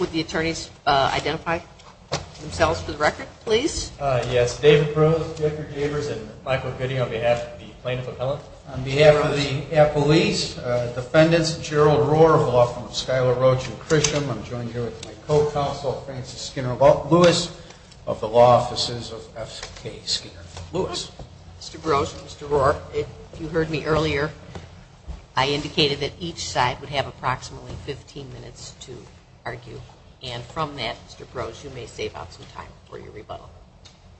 Would the attorneys identify themselves for the record, please? Yes. David Rose, Jeffrey Gabers, and Michael Goody on behalf of the plaintiff appellate. On behalf of the appellees, defendants, Gerald Rohr of the Law Firm of Schuyler, Roach & Chrisham. I'm joined here with my co-counsel, Frances Skinner-Lewis, of the Law Offices of F.K. Skinner-Lewis. Mr. Grosz, Mr. Rohr, if you heard me earlier, I indicated that each side would have approximately 15 minutes to argue, and from that, Mr. Grosz, you may save up some time for your rebuttal.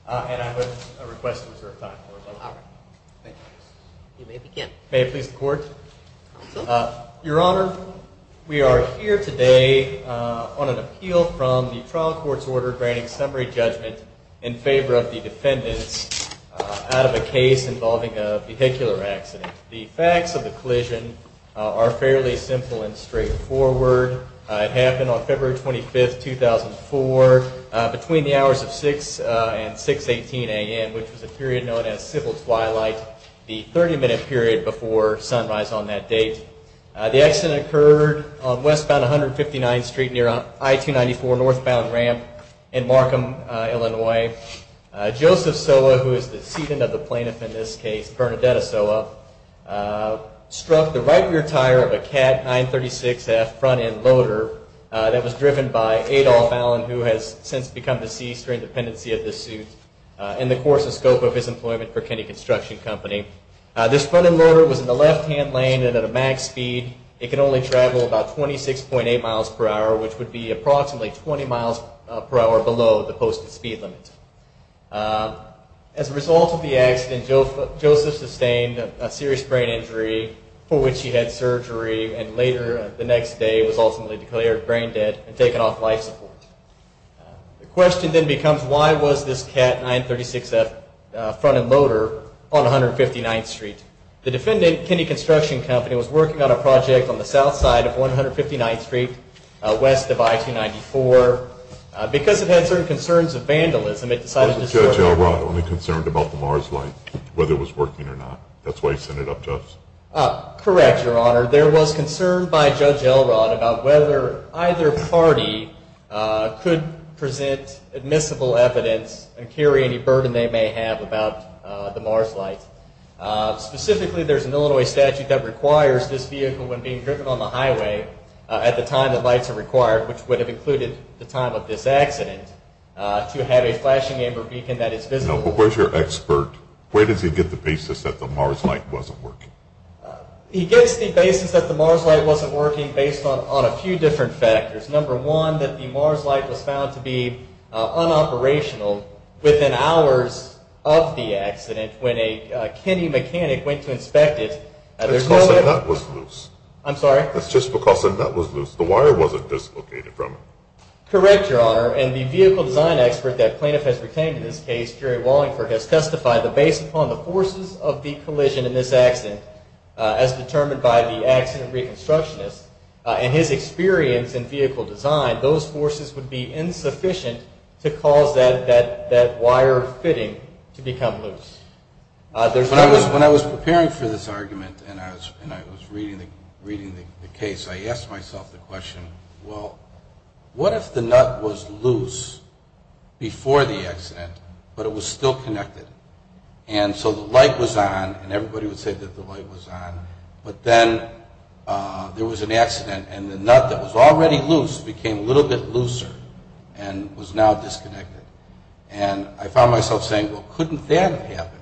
And I would request to reserve time for rebuttal. All right. Thank you. You may begin. May it please the Court? Counsel? Your Honor, we are here today on an appeal from the trial court's order granting summary judgment in favor of the defendants out of a case involving a vehicular accident. The facts of the collision are fairly simple and straightforward. It happened on February 25, 2004, between the hours of 6 and 6.18 a.m., which was a period known as civil twilight, the 30-minute period before sunrise on that date. The accident occurred on westbound 159th Street near I-294 northbound ramp in Markham, Illinois. Joseph Sowa, who is the seatant of the plaintiff in this case, Bernadetta Sowa, struck the right rear tire of a CAT 936F front-end loader that was driven by Adolph Allen, who has since become deceased during the pendency of this suit, in the course of scope of his employment for Kennedy Construction Company. This front-end loader was in the left-hand lane and at a max speed. It can only travel about 26.8 miles per hour, which would be approximately 20 miles per hour below the posted speed limit. As a result of the accident, Joseph sustained a serious brain injury for which he had surgery and later the next day was ultimately declared brain dead and taken off life support. The question then becomes, why was this CAT 936F front-end loader on 159th Street? The defendant, Kennedy Construction Company, was working on a project on the south side of 159th Street west of I-294. Because it had certain concerns of vandalism, it decided to... Wasn't Judge Elrod only concerned about the MARS light, whether it was working or not? That's why he sent it up to us? Correct, Your Honor. There was concern by Judge Elrod about whether either party could present admissible evidence and carry any burden they may have about the MARS light. Specifically, there's an Illinois statute that requires this vehicle, when being driven on the highway at the time that lights are required, which would have included the time of this accident, to have a flashing amber beacon that is visible. No, but where's your expert? Where does he get the basis that the MARS light wasn't working? He gets the basis that the MARS light wasn't working based on a few different factors. Number one, that the MARS light was found to be unoperational within hours of the accident when a Kennedy mechanic went to inspect it. That's because the nut was loose. I'm sorry? That's just because the nut was loose. The wire wasn't dislocated from it. Correct, Your Honor. And the vehicle design expert that plaintiff has retained in this case, Jerry Wallingford, has testified that based upon the forces of the collision in this accident, as determined by the accident reconstructionist and his experience in vehicle design, those forces would be insufficient to cause that wire fitting to become loose. When I was preparing for this argument and I was reading the case, I asked myself the question, well, what if the nut was loose before the accident, but it was still connected? And so the light was on and everybody would say that the light was on, but then there was an accident and the nut that was already loose became a little bit looser and was now disconnected. And I found myself saying, well, couldn't that have happened?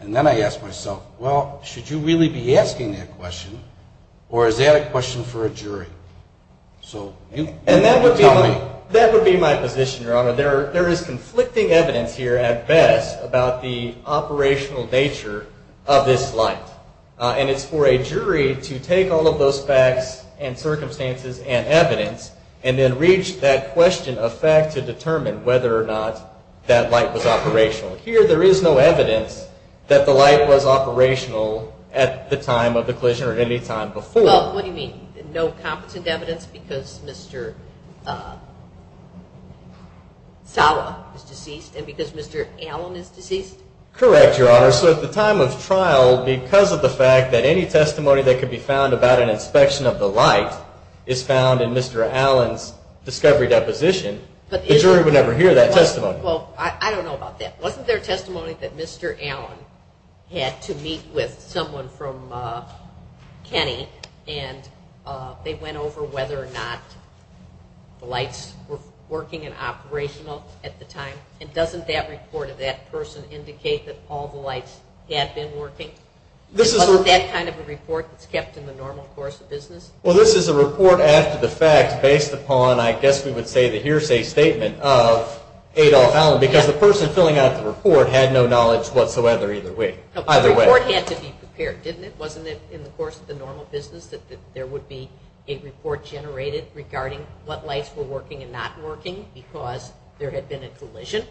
And then I asked myself, well, should you really be asking that question or is that a question for a jury? And that would be my position, Your Honor. There is conflicting evidence here at best about the operational nature of this light. And it's for a jury to take all of those facts and circumstances and evidence and then reach that question of fact to determine whether or not that light was operational. Here there is no evidence that the light was operational at the time of the collision or any time before. Well, what do you mean? No competent evidence because Mr. Sala is deceased and because Mr. Allen is deceased? Correct, Your Honor. So at the time of trial, because of the fact that any testimony that could be found about an inspection of the light is found in Mr. Allen's discovery deposition, the jury would never hear that testimony. Well, I don't know about that. Wasn't there testimony that Mr. Allen had to meet with someone from Kenny and they went over whether or not the lights were working and operational at the time? And doesn't that report of that person indicate that all the lights had been working? Wasn't that kind of a report that's kept in the normal course of business? Well, this is a report after the fact based upon, I guess we would say, the hearsay statement of Adolph Allen because the person filling out the report had no knowledge whatsoever either way. The report had to be prepared, didn't it? Wasn't it in the course of the normal business that there would be a report generated regarding what lights were working and not working because there had been a collision?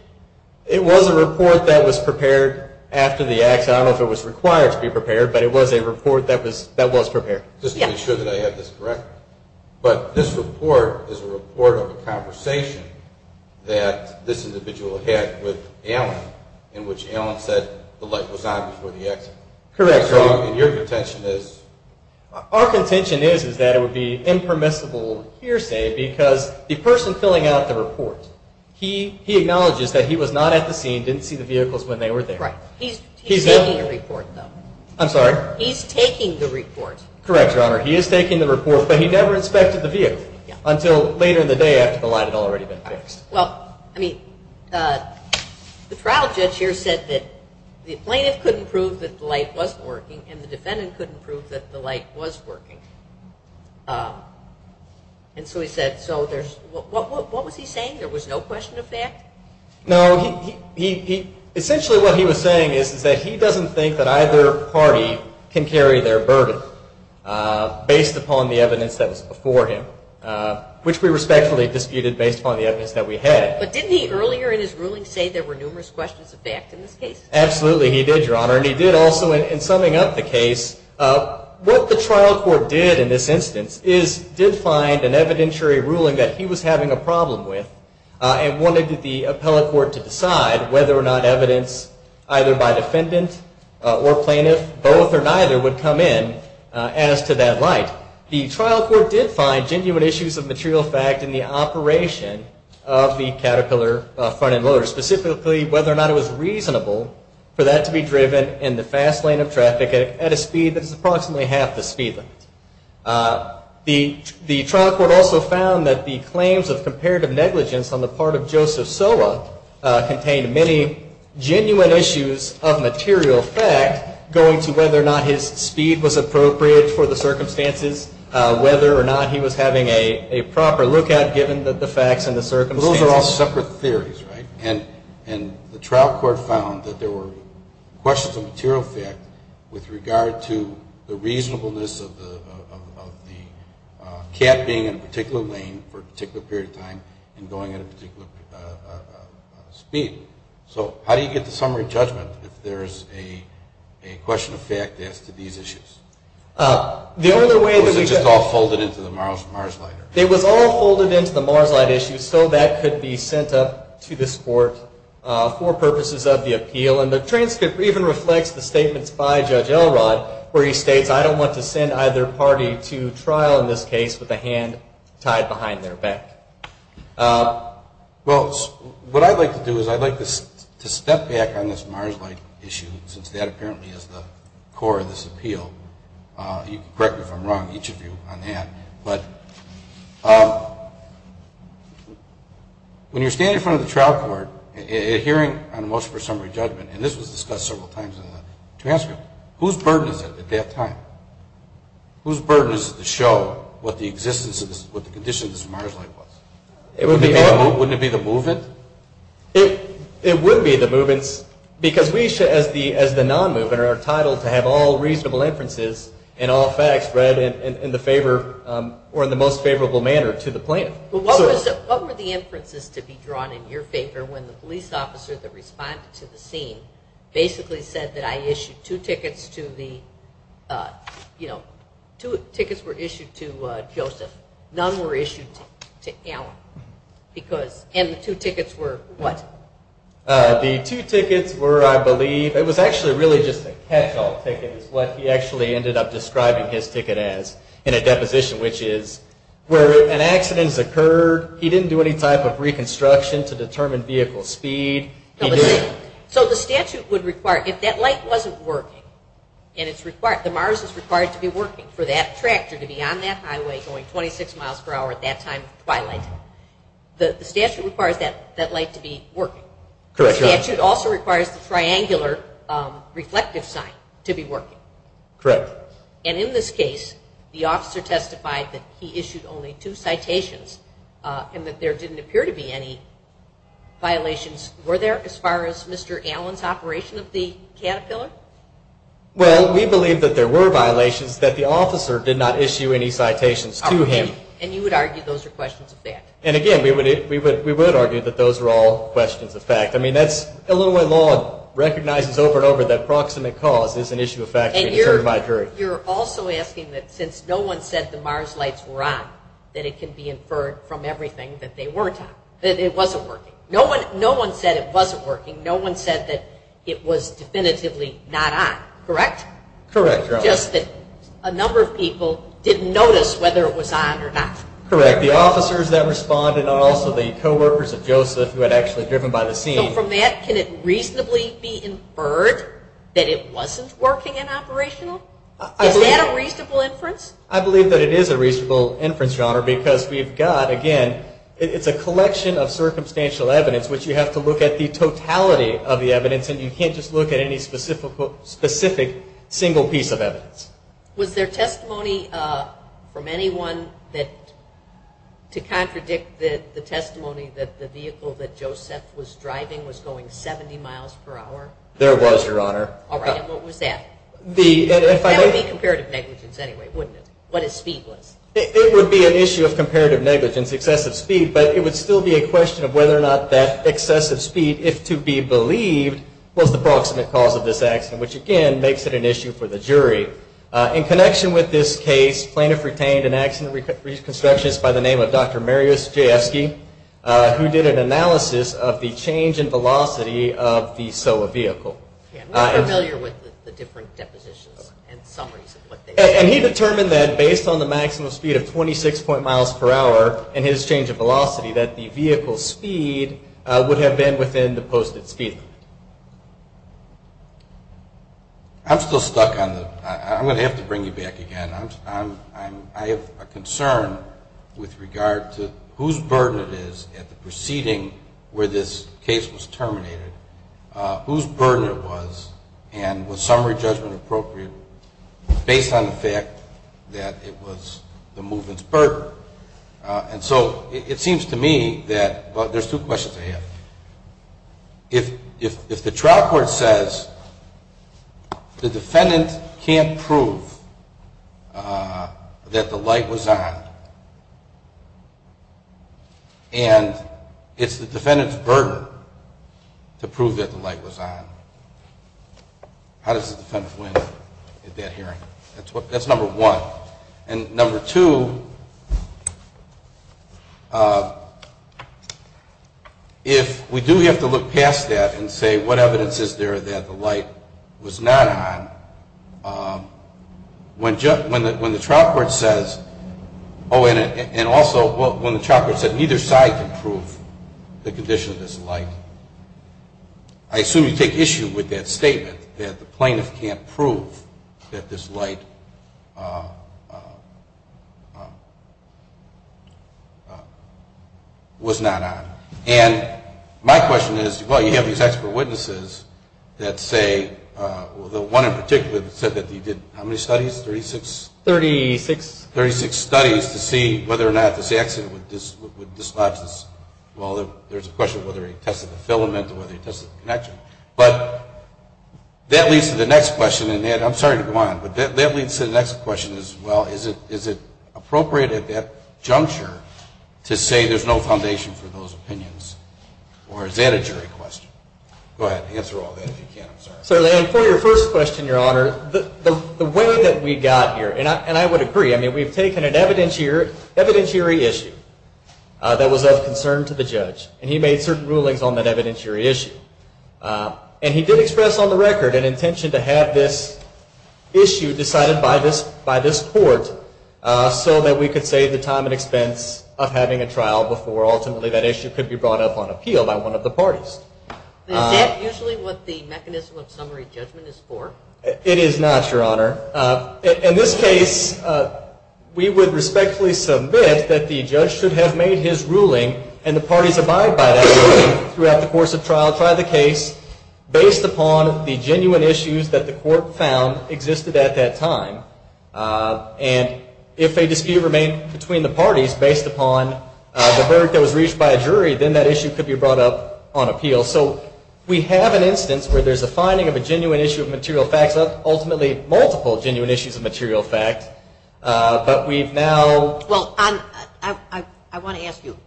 It was a report that was prepared after the accident. I don't know if it was required to be prepared, but it was a report that was prepared. Just to be sure that I have this correct, but this report is a report of a conversation that this individual had with Allen in which Allen said the light was on before the accident. Correct. And your contention is? Our contention is that it would be impermissible hearsay because the person filling out the report, he acknowledges that he was not at the scene, didn't see the vehicles when they were there. Right. He's taking the report, though. I'm sorry? He's taking the report. Correct, Your Honor. He is taking the report, but he never inspected the vehicle until later in the day after the light had already been fixed. Well, I mean, the trial judge here said that the plaintiff couldn't prove that the light wasn't working and the defendant couldn't prove that the light was working. And so he said, so there's, what was he saying? There was no question of fact? No, he, essentially what he was saying is that he doesn't think that either party can carry their burden based upon the evidence that was before him, which we respectfully disputed based upon the evidence that we had. But didn't he earlier in his ruling say there were numerous questions of fact in this case? And he did also, in summing up the case, what the trial court did in this instance is did find an evidentiary ruling that he was having a problem with and wanted the appellate court to decide whether or not evidence either by defendant or plaintiff, both or neither, would come in as to that light. The trial court did find genuine issues of material fact in the operation of the Caterpillar front-end loader, specifically whether or not it was reasonable for that to be driven in the fast lane of traffic at a speed that is approximately half the speed limit. The trial court also found that the claims of comparative negligence on the part of Joseph Sowa contained many genuine issues of material fact going to whether or not his speed was appropriate for the circumstances, whether or not he was having a proper lookout given the facts and the circumstances. So those are all separate theories, right? And the trial court found that there were questions of material fact with regard to the reasonableness of the cab being in a particular lane for a particular period of time and going at a particular speed. So how do you get the summary judgment if there is a question of fact as to these issues? It was all folded into the Mars Light issue, so that could be sent up to this court for purposes of the appeal. And the transcript even reflects the statements by Judge Elrod where he states, I don't want to send either party to trial in this case with a hand tied behind their back. Well, what I'd like to do is I'd like to step back on this Mars Light issue since that apparently is the core of this appeal. You can correct me if I'm wrong, each of you on that. But when you're standing in front of the trial court hearing on motion for summary judgment, and this was discussed several times in the transcript, whose burden is it at that time? Whose burden is it to show what the conditions of this Mars Light was? Wouldn't it be the movement? It would be the movement because we as the non-movement are entitled to have all reasonable inferences and all facts read in the most favorable manner to the plaintiff. But what were the inferences to be drawn in your favor when the police officer that responded to the scene basically said that I issued two tickets to the, you know, two tickets were issued to Joseph, none were issued to Alan. And the two tickets were what? The two tickets were, I believe, it was actually really just a catch-all ticket is what he actually ended up describing his ticket as in a deposition, which is where an accident has occurred, he didn't do any type of reconstruction to determine vehicle speed. So the statute would require, if that light wasn't working, and it's required, the Mars is required to be working for that tractor to be on that highway going 26 miles per hour at that time of twilight, the statute requires that light to be working. The statute also requires the triangular reflective sign to be working. Correct. And in this case, the officer testified that he issued only two citations and that there didn't appear to be any violations. Were there as far as Mr. Alan's operation of the Caterpillar? Well, we believe that there were violations that the officer did not issue any citations to him. And you would argue those are questions of fact? You're also asking that since no one said the Mars lights were on, that it can be inferred from everything that they weren't on, that it wasn't working. No one said it wasn't working. No one said that it was definitively not on, correct? Correct. Just that a number of people didn't notice whether it was on or not. Correct. The officers that responded and also the co-workers of Joseph who had actually driven by the scene. So from that, can it reasonably be inferred that it wasn't working and operational? Is that a reasonable inference? I believe that it is a reasonable inference, Your Honor, because we've got, again, it's a collection of circumstantial evidence which you have to look at the totality of the evidence and you can't just look at any specific single piece of evidence. Was there testimony from anyone to contradict the testimony that the vehicle that Joseph was driving was going 70 miles per hour? There was, Your Honor. All right, and what was that? That would be comparative negligence anyway, wouldn't it? What if speed was? It would be an issue of comparative negligence, excessive speed, but it would still be a question of whether or not that excessive speed, if to be believed, was the proximate cause of this accident, which again makes it an issue for the jury. In connection with this case, plaintiff retained an accident reconstructionist by the name of Dr. Mariusz Jaski, who did an analysis of the change in velocity of the Sowa vehicle. I'm not familiar with the different depositions and summaries. And he determined that based on the maximum speed of 26 point miles per hour and his change of velocity, that the vehicle's speed would have been within the posted speed limit. I'm still stuck on the, I'm going to have to bring you back again. I have a concern with regard to whose burden it is at the proceeding where this case was terminated, whose burden it was, and was summary judgment appropriate based on the fact that it was the movement's burden? And so it seems to me that there's two questions I have. If the trial court says the defendant can't prove that the light was on and it's the defendant's burden to prove that the light was on, how does the defendant win that hearing? That's number one. And number two, if we do have to look past that and say what evidence is there that the light was not on, when the trial court says, oh, and also when the trial court said neither side can prove the condition of this light, I assume you take issue with that statement that the plaintiff can't prove that this light was not on. And my question is, well, you have these expert witnesses that say, the one in particular that said that he did, how many studies, 36? 36. 36 studies to see whether or not this accident would dislodge this, well, there's a question of whether he tested the filament or whether he tested the connection. But that leads to the next question, and Ed, I'm sorry to go on, but that leads to the next question as well. Is it appropriate at that juncture to say there's no foundation for those opinions? Or is that a jury question? Go ahead, answer all that if you can, I'm sorry. Certainly, and for your first question, Your Honor, the way that we got here, and I would agree, I mean, we've taken an evidentiary issue that was of concern to the judge. And he made certain rulings on that evidentiary issue. And he did express on the record an intention to have this issue decided by this court so that we could save the time and expense of having a trial before ultimately that issue could be brought up on appeal by one of the parties. Is that usually what the mechanism of summary judgment is for? It is not, Your Honor. In this case, we would respectfully submit that the judge should have made his ruling and the parties abide by that ruling throughout the course of trial, try the case, based upon the genuine issues that the court found existed at that time. And if a dispute remained between the parties based upon the verdict that was reached by a jury, then that issue could be brought up on appeal. So we have an instance where there's a finding of a genuine issue of material facts, ultimately multiple genuine issues of material facts, but we've now… Well, I want to ask you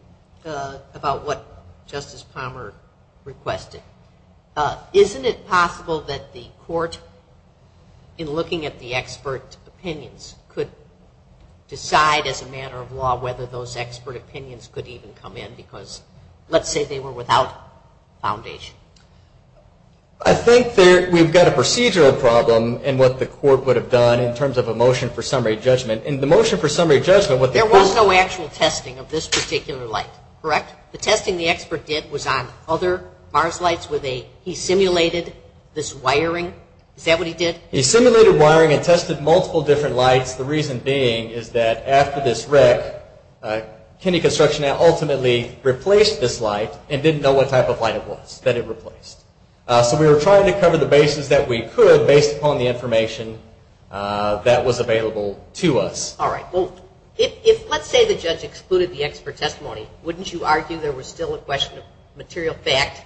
about what Justice Palmer requested. Isn't it possible that the court, in looking at the expert opinions, could decide as a matter of law whether those expert opinions could even come in? Because let's say they were without foundation. I think we've got a procedural problem in what the court would have done in terms of a motion for summary judgment. In the motion for summary judgment, what the court… There was no actual testing of this particular light, correct? The testing the expert did was on other Mars lights where he simulated this wiring. Is that what he did? He simulated wiring and tested multiple different lights. The reason being is that after this wreck, Kennedy Construction ultimately replaced this light and didn't know what type of light it was that it replaced. So we were trying to cover the bases that we could based upon the information that was available to us. All right. Well, if let's say the judge excluded the expert testimony, wouldn't you argue there was still a question of material fact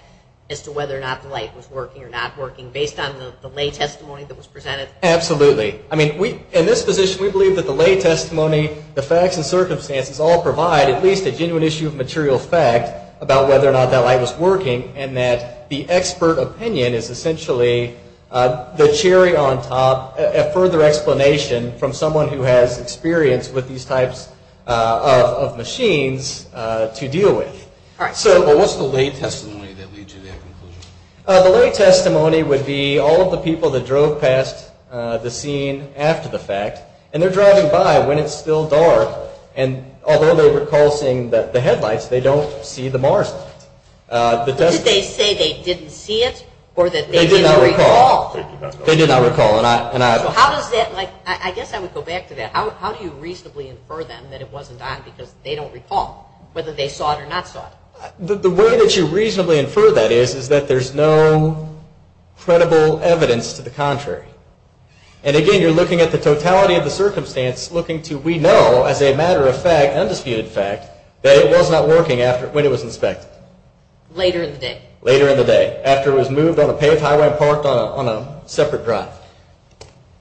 as to whether or not the light was working or not working based on the lay testimony that was presented? Absolutely. I mean, in this position, we believe that the lay testimony, the facts and circumstances all provide at least a genuine issue of material fact about whether or not that light was working and that the expert opinion is essentially the cherry on top, a further explanation from someone who has experience with these types of machines to deal with. All right. So what's the lay testimony that leads to that conclusion? The lay testimony would be all of the people that drove past the scene after the fact, and they're driving by when it's still dark, and although they recall seeing the headlights, they don't see the MARS light. Did they say they didn't see it or that they didn't recall? They did not recall. They did not recall. So how does that, like, I guess I would go back to that. How do you reasonably infer them that it wasn't on because they don't recall whether they saw it or not saw it? The way that you reasonably infer that is is that there's no credible evidence to the contrary. And again, you're looking at the totality of the circumstance, looking to we know as a matter of fact, undisputed fact, that it was not working when it was inspected. Later in the day. Later in the day, after it was moved on a paved highway and parked on a separate drive.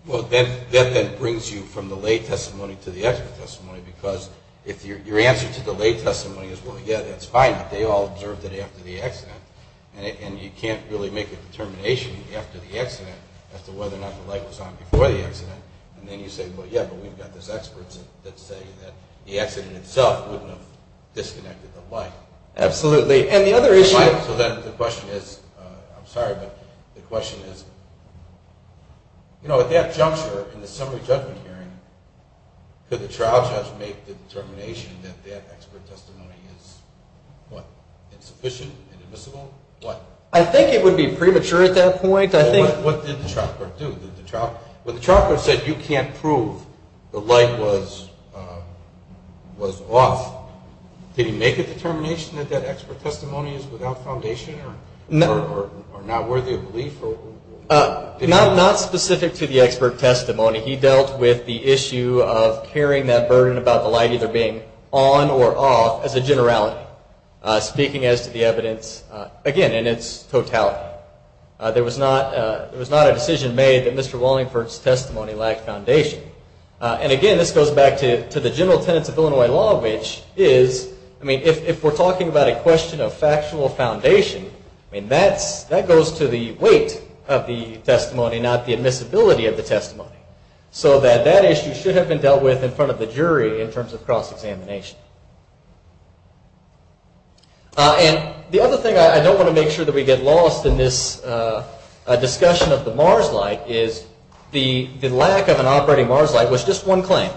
Well, that then brings you from the lay testimony to the expert testimony because if your answer to the lay testimony is, well, yeah, that's fine, they all observed it after the accident. And you can't really make a determination after the accident as to whether or not the light was on before the accident. And then you say, well, yeah, but we've got these experts that say that the accident itself wouldn't have disconnected the light. Absolutely. And the other issue. So then the question is, I'm sorry, but the question is, you know, at that juncture in the summary judgment hearing, could the trial judge make the determination that that expert testimony is what? Inadmissible? What? I think it would be premature at that point. What did the trial court do? When the trial court said you can't prove the light was off, did he make a determination that that expert testimony is without foundation or not worthy of belief? Not specific to the expert testimony. He dealt with the issue of carrying that burden about the light either being on or off as a generality, speaking as to the evidence, again, in its totality. There was not a decision made that Mr. Wallingford's testimony lacked foundation. And, again, this goes back to the general tenets of Illinois law, which is, I mean, if we're talking about a question of factual foundation, I mean, that goes to the weight of the testimony, not the admissibility of the testimony. So that that issue should have been dealt with in front of the jury in terms of cross-examination. And the other thing, I don't want to make sure that we get lost in this discussion of the MARS light, is the lack of an operating MARS light was just one claim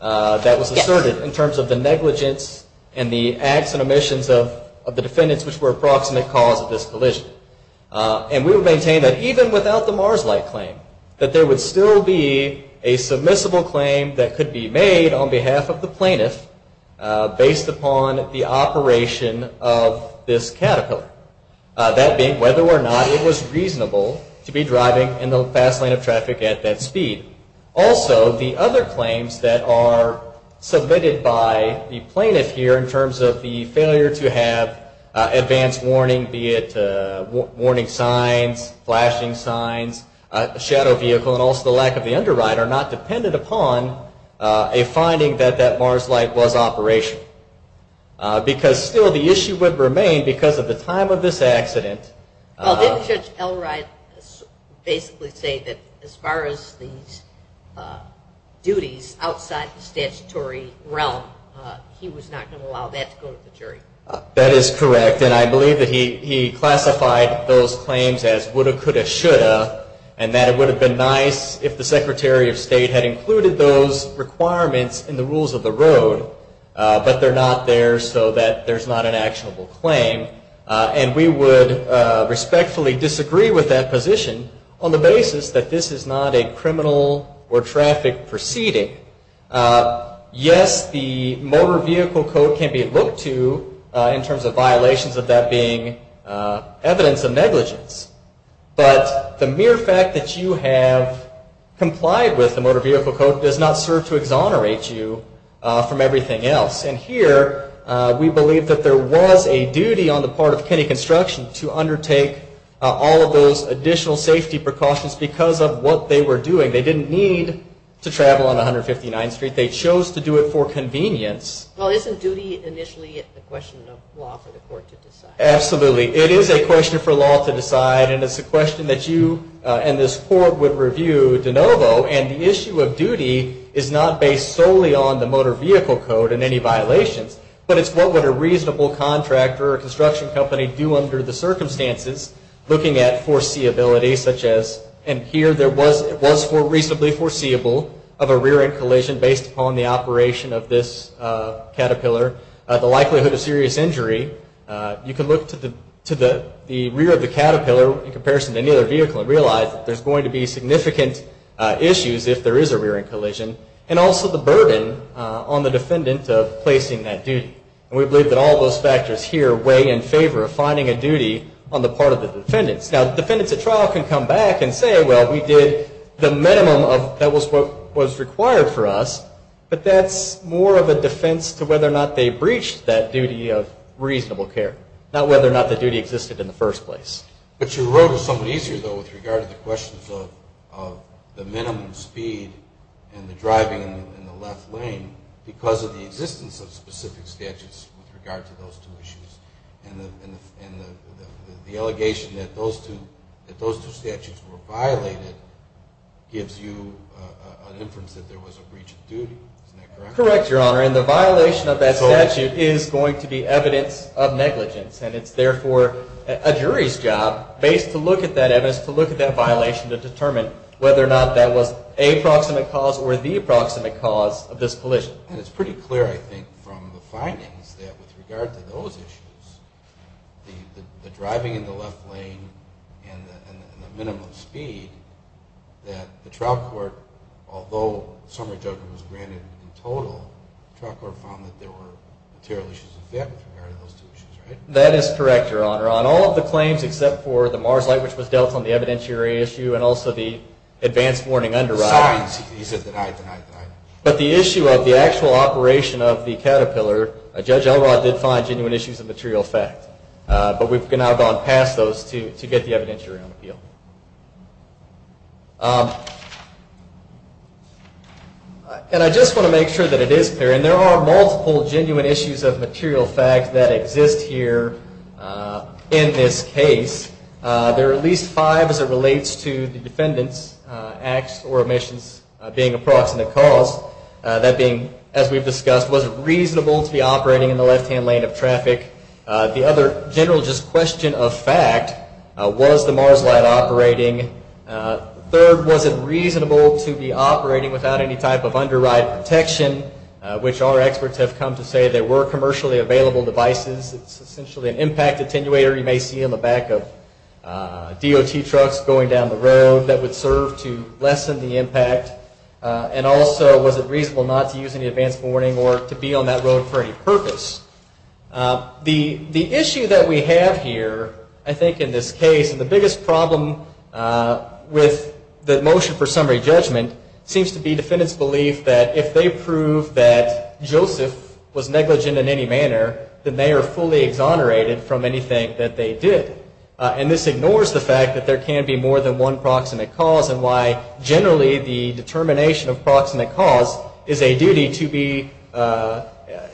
that was asserted in terms of the negligence and the acts and omissions of the defendants which were approximate cause of this collision. And we would maintain that even without the MARS light claim, that there would still be a submissible claim that could be made on behalf of the plaintiff based upon the operation of this Caterpillar. That being whether or not it was reasonable to be driving in the fast lane of traffic at that speed. Also, the other claims that are submitted by the plaintiff here in terms of the failure to have advanced warning, be it warning signs, flashing signs, shadow vehicle, and also the lack of the underwrite are not dependent upon a finding that that MARS light was operational. Because still the issue would remain because of the time of this accident. Well, didn't Judge Elright basically say that as far as these duties outside the statutory realm, he was not going to allow that to go to the jury? That is correct. And I believe that he classified those claims as woulda, coulda, shoulda. And that it would have been nice if the Secretary of State had included those requirements in the rules of the road. But they're not there so that there's not an actionable claim. And we would respectfully disagree with that position on the basis that this is not a criminal or traffic proceeding. Yes, the Motor Vehicle Code can be looked to in terms of violations of that being evidence of negligence. But the mere fact that you have complied with the Motor Vehicle Code does not serve to exonerate you from everything else. And here we believe that there was a duty on the part of Kennedy Construction to undertake all of those additional safety precautions because of what they were doing. They didn't need to travel on 159th Street. They chose to do it for convenience. Well, isn't duty initially a question of law for the court to decide? Absolutely. It is a question for law to decide. And it's a question that you and this court would review de novo. And the issue of duty is not based solely on the Motor Vehicle Code and any violations, but it's what would a reasonable contractor or construction company do under the circumstances looking at foreseeability such as, and here it was reasonably foreseeable of a rear-end collision based upon the operation of this Caterpillar, the likelihood of serious injury. You can look to the rear of the Caterpillar in comparison to any other vehicle and realize that there's going to be significant issues if there is a rear-end collision, and also the burden on the defendant of placing that duty. And we believe that all those factors here weigh in favor of finding a duty on the part of the defendants. Now, the defendants at trial can come back and say, well, we did the minimum of what was required for us, but that's more of a defense to whether or not they breached that duty of reasonable care, not whether or not the duty existed in the first place. But you wrote it somewhat easier, though, with regard to the questions of the minimum speed and the driving in the left lane because of the existence of specific statutes with regard to those two issues, and the allegation that those two statutes were violated gives you an inference that there was a breach of duty. Isn't that correct? Correct, Your Honor, and the violation of that statute is going to be evidence of negligence, and it's therefore a jury's job to look at that evidence, to look at that violation, to determine whether or not that was a proximate cause or the approximate cause of this collision. And it's pretty clear, I think, from the findings that with regard to those issues, the driving in the left lane and the minimum speed, that the trial court, although summary judgment was granted in total, the trial court found that there were material issues of fact with regard to those two issues, right? That is correct, Your Honor. On all of the claims except for the MARS light, which was dealt on the evidentiary issue, and also the advanced warning underwriting. The signs, he said denied, denied, denied. But the issue of the actual operation of the Caterpillar, Judge Elrod did find genuine issues of material fact, but we've now gone past those to get the evidentiary on appeal. And I just want to make sure that it is clear, and there are multiple genuine issues of material fact that exist here in this case. There are at least five as it relates to the defendant's acts or omissions being a proximate cause, that being, as we've discussed, was it reasonable to be operating in the left-hand lane of traffic? The other general just question of fact, was the MARS light operating? Third, was it reasonable to be operating without any type of underwrite protection, which our experts have come to say there were commercially available devices. It's essentially an impact attenuator you may see in the back of DOT trucks going down the road that would serve to lessen the impact. And also, was it reasonable not to use any advance warning or to be on that road for any purpose? The issue that we have here, I think, in this case, and the biggest problem with the motion for summary judgment seems to be defendants' belief that if they prove that Joseph was negligent in any manner, then they are fully exonerated from anything that they did. And this ignores the fact that there can be more than one proximate cause and why generally the determination of proximate cause is a duty to be,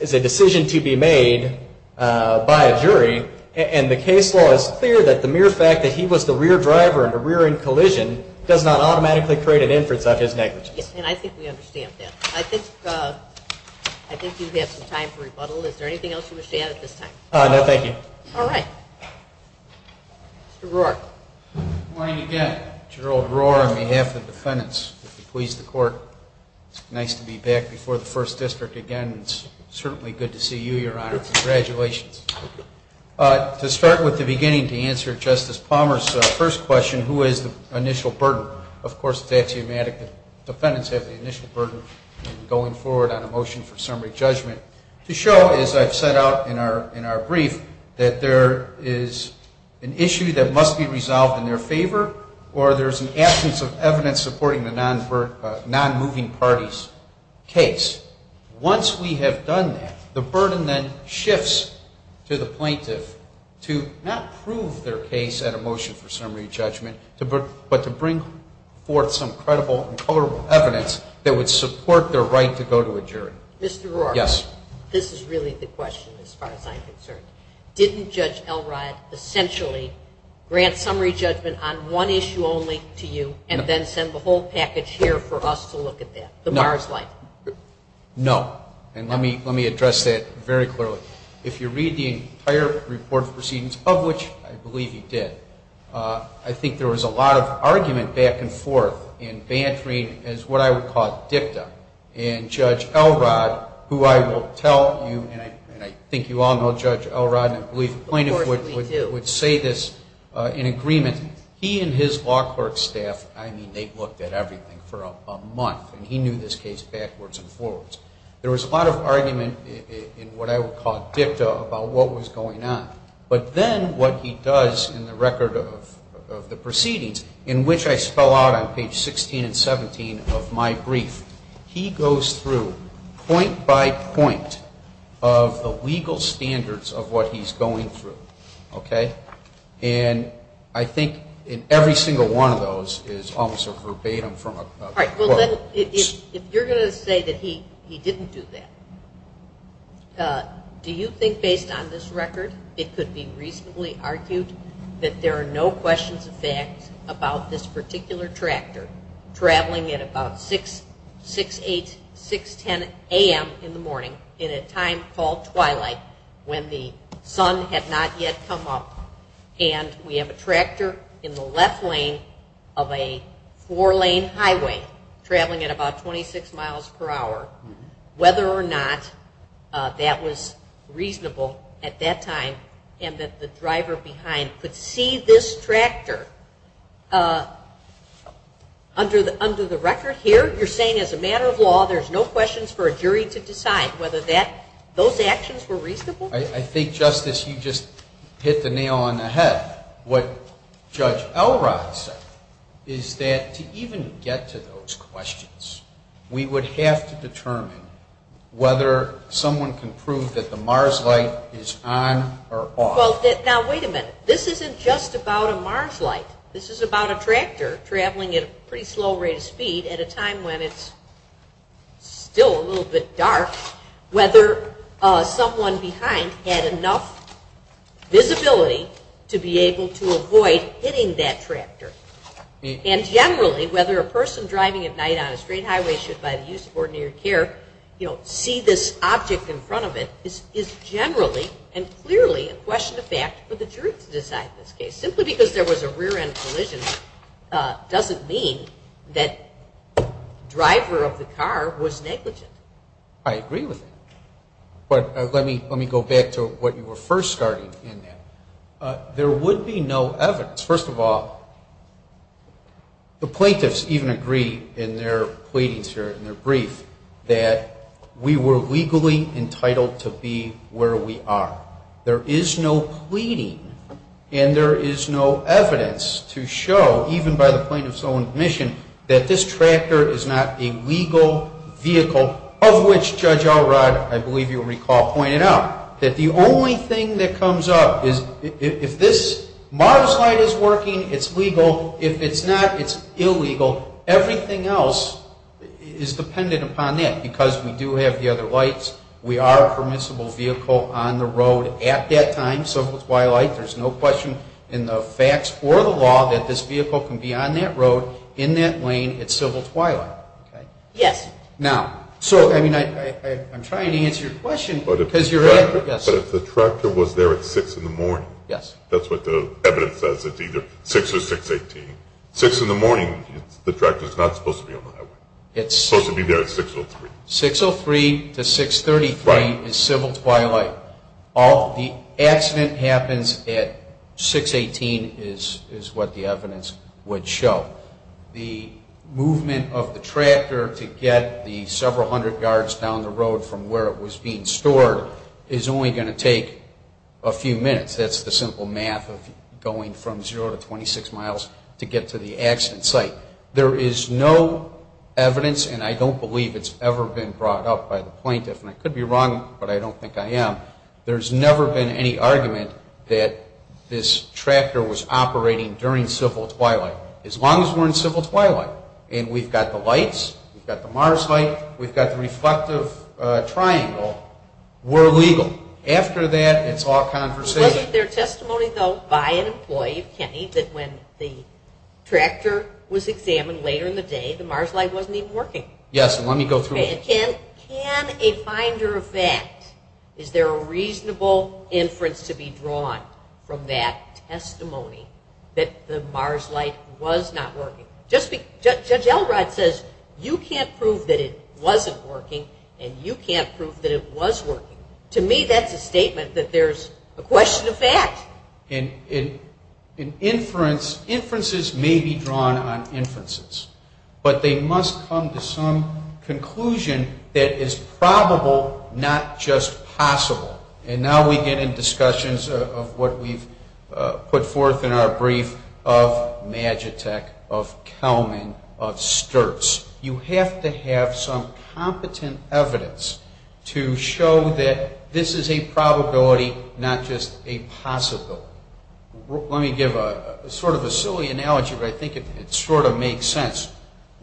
is a decision to be made by a jury. And the case law is clear that the mere fact that he was the rear driver in the rear-end collision does not automatically create an inference of his negligence. Yes, and I think we understand that. I think you have some time for rebuttal. Is there anything else you wish to add at this time? No, thank you. All right. Mr. Brewer. Good morning again. Gerald Brewer on behalf of the defendants. If you'll please the Court. It's nice to be back before the First District again. It's certainly good to see you, Your Honor. Congratulations. To start with the beginning to answer Justice Palmer's first question, who is the initial burden? Of course, it's axiomatic that defendants have the initial burden going forward on a motion for summary judgment. To show, as I've set out in our brief, that there is an issue that must be resolved in their favor or there's an absence of evidence supporting the non-moving party's case. Once we have done that, the burden then shifts to the plaintiff to not prove their case at a motion for summary judgment but to bring forth some credible and tolerable evidence that would support their right to go to a jury. Mr. Brewer. Yes. This is really the question as far as I'm concerned. Didn't Judge Elrod essentially grant summary judgment on one issue only to you and then send the whole package here for us to look at that, the Mars Light? No. And let me address that very clearly. If you read the entire report of proceedings, of which I believe he did, I think there was a lot of argument back and forth in bantering as what I would call dicta, and Judge Elrod, who I will tell you, and I think you all know Judge Elrod, and I believe the plaintiff would say this in agreement. He and his law clerk staff, I mean, they looked at everything for a month, and he knew this case backwards and forwards. There was a lot of argument in what I would call dicta about what was going on. But then what he does in the record of the proceedings, in which I spell out on page 16 and 17 of my brief, he goes through point by point of the legal standards of what he's going through, okay? And I think in every single one of those is almost a verbatim from a quote. All right, well, then if you're going to say that he didn't do that, do you think based on this record it could be reasonably argued that there are no questions of fact about this particular tractor traveling at about 6, 8, 6, 10 a.m. in the morning in a time called twilight when the sun had not yet come up, and we have a tractor in the left lane of a four-lane highway traveling at about 26 miles per hour, whether or not that was reasonable at that time, and that the driver behind could see this tractor under the record here? You're saying as a matter of law there's no questions for a jury to decide whether those actions were reasonable? I think, Justice, you just hit the nail on the head. What Judge Elrod said is that to even get to those questions, we would have to determine whether someone can prove that the MARS light is on or off. Well, now, wait a minute. This isn't just about a MARS light. This is about a tractor traveling at a pretty slow rate of speed at a time when it's still a little bit dark, whether someone behind had enough visibility to be able to avoid hitting that tractor. And generally, whether a person driving at night on a straight highway should, by the use of ordinary care, see this object in front of it is generally and clearly a question of fact for the jury to decide in this case. Simply because there was a rear-end collision doesn't mean that driver of the car was negligent. I agree with you. But let me go back to what you were first starting in. There would be no evidence. First of all, the plaintiffs even agree in their pleadings here, in their brief, that we were legally entitled to be where we are. There is no pleading, and there is no evidence to show, even by the plaintiff's own admission, that this tractor is not a legal vehicle, of which Judge Elrod, I believe you recall, pointed out, that the only thing that comes up is if this MARS light is working, it's legal. If it's not, it's illegal. Everything else is dependent upon that, because we do have the other lights. We are a permissible vehicle on the road at that time, civil twilight. There's no question in the facts or the law that this vehicle can be on that road, in that lane, at civil twilight. Yes. I'm trying to answer your question. But if the tractor was there at 6 in the morning, that's what the evidence says. It's either 6 or 6-18. 6 in the morning, the tractor's not supposed to be on that road. It's supposed to be there at 6-03. 6-03 to 6-33 is civil twilight. The accident happens at 6-18 is what the evidence would show. The movement of the tractor to get the several hundred yards down the road from where it was being stored is only going to take a few minutes. That's the simple math of going from 0 to 26 miles to get to the accident site. There is no evidence, and I don't believe it's ever been brought up by the plaintiff, and I could be wrong, but I don't think I am. There's never been any argument that this tractor was operating during civil twilight. As long as we're in civil twilight and we've got the lights, we've got the Mars light, we've got the reflective triangle, we're legal. After that, it's all conversation. Wasn't there testimony, though, by an employee of Kenny that when the tractor was examined later in the day, the Mars light wasn't even working? Yes, and let me go through it. Can a finder of fact, is there a reasonable inference to be drawn from that testimony that the Mars light was not working? Judge Elrod says you can't prove that it wasn't working, and you can't prove that it was working. To me, that's a statement that there's a question of fact. And inferences may be drawn on inferences, but they must come to some conclusion that is probable, not just possible. And now we get into discussions of what we've put forth in our brief of Magitek, of Kelman, of Sturtz. You have to have some competent evidence to show that this is a probability, not just a possibility. Let me give sort of a silly analogy, but I think it sort of makes sense.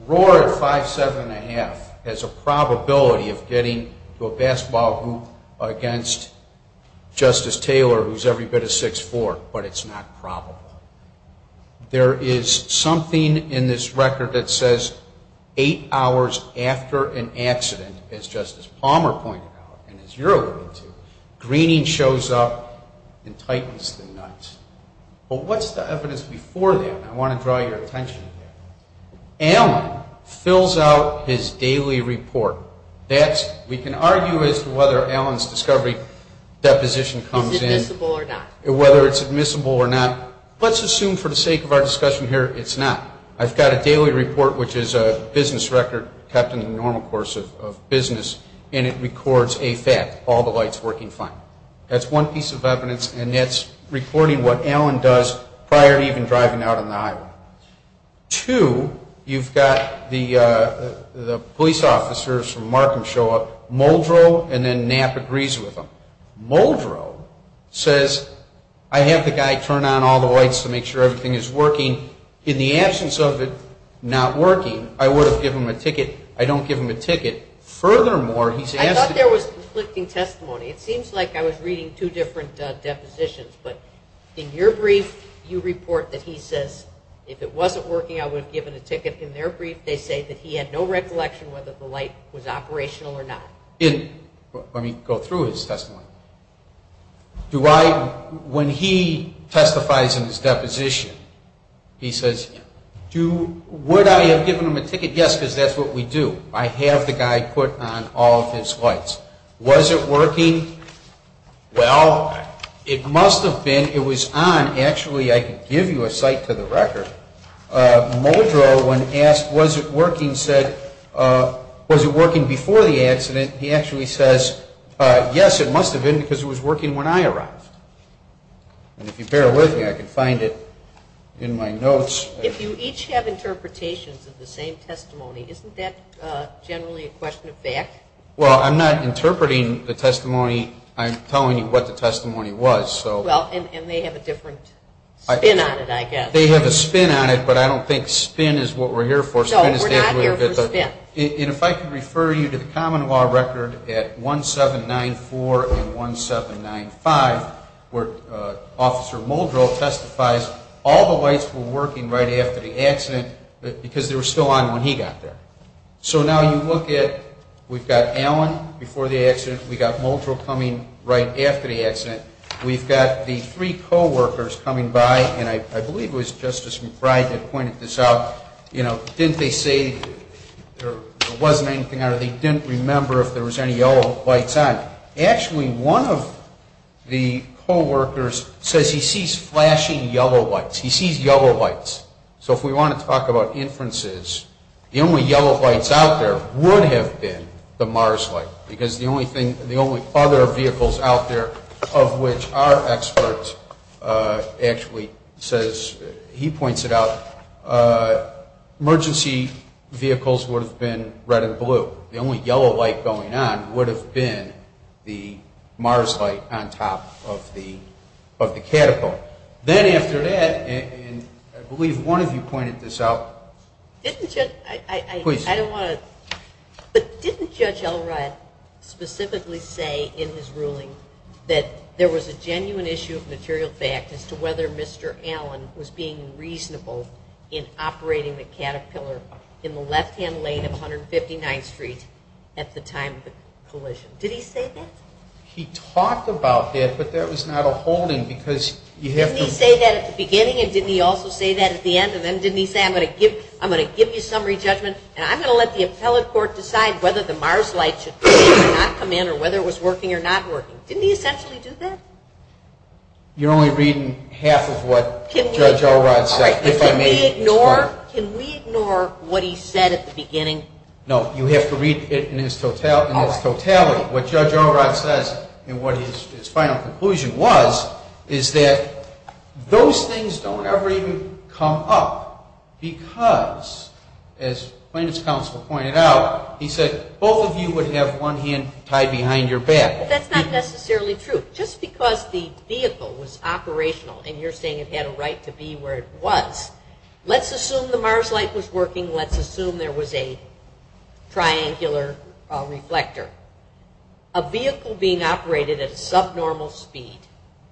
Roar at 5'7 1⁄2 has a probability of getting to a basketball hoop against Justice Taylor, who's every bit of 6'4", but it's not probable. There is something in this record that says eight hours after an accident, as Justice Palmer pointed out and as you're alluding to, greening shows up and tightens the nut. But what's the evidence before that? I want to draw your attention here. Allen fills out his daily report. We can argue as to whether Allen's discovery deposition comes in. Is it admissible or not? Whether it's admissible or not. Let's assume for the sake of our discussion here, it's not. I've got a daily report, which is a business record kept in the normal course of business, and it records a fact, all the lights working fine. That's one piece of evidence, and that's reporting what Allen does prior to even driving out on the highway. Two, you've got the police officers from Markham show up, Muldrow, and then Knapp agrees with them. Muldrow says, I have the guy turn on all the lights to make sure everything is working. In the absence of it not working, I would have given him a ticket. I don't give him a ticket. Furthermore, he's asked to be ---- I thought there was conflicting testimony. It seems like I was reading two different depositions, but in your brief, you report that he says, if it wasn't working, I would have given a ticket. In their brief, they say that he had no recollection whether the light was operational or not. Let me go through his testimony. When he testifies in his deposition, he says, would I have given him a ticket? Yes, because that's what we do. I have the guy put on all of his lights. Was it working? Well, it must have been. It was on. Actually, I can give you a cite to the record. Muldrow, when asked, was it working, said, was it working before the accident? He actually says, yes, it must have been because it was working when I arrived. And if you bear with me, I can find it in my notes. If you each have interpretations of the same testimony, isn't that generally a question of fact? Well, I'm not interpreting the testimony. I'm telling you what the testimony was. And they have a different spin on it, I guess. They have a spin on it, but I don't think spin is what we're here for. No, we're not here for spin. And if I can refer you to the common law record at 1794 and 1795, where Officer Muldrow testifies, all the lights were working right after the accident because they were still on when he got there. So now you look at we've got Allen before the accident. We've got Muldrow coming right after the accident. We've got the three co-workers coming by, and I believe it was Justice McBride that pointed this out. Didn't they say there wasn't anything on it? They didn't remember if there was any yellow lights on. Actually, one of the co-workers says he sees flashing yellow lights. He sees yellow lights. So if we want to talk about inferences, the only yellow lights out there would have been the MARS light because the only other vehicles out there of which our expert actually says he points it out, emergency vehicles would have been red and blue. The only yellow light going on would have been the MARS light on top of the catapult. Then after that, and I believe one of you pointed this out. Didn't Judge Elrod specifically say in his ruling that there was a genuine issue of material fact as to whether Mr. Allen was being reasonable in operating the Caterpillar in the left-hand lane of 159th Street at the time of the collision? Did he say that? He talked about that, but that was not a holding because you have to- Didn't he say that at the beginning and didn't he also say that at the end? And then didn't he say, I'm going to give you summary judgment and I'm going to let the appellate court decide whether the MARS light should not come in or whether it was working or not working? Didn't he essentially do that? You're only reading half of what Judge Elrod said. Can we ignore what he said at the beginning? No, you have to read it in its totality. What Judge Elrod says and what his final conclusion was is that those things don't ever even come up because, as plaintiff's counsel pointed out, he said both of you would have one hand tied behind your back. That's not necessarily true. Just because the vehicle was operational and you're saying it had a right to be where it was, let's assume the MARS light was working. Let's assume there was a triangular reflector. A vehicle being operated at a subnormal speed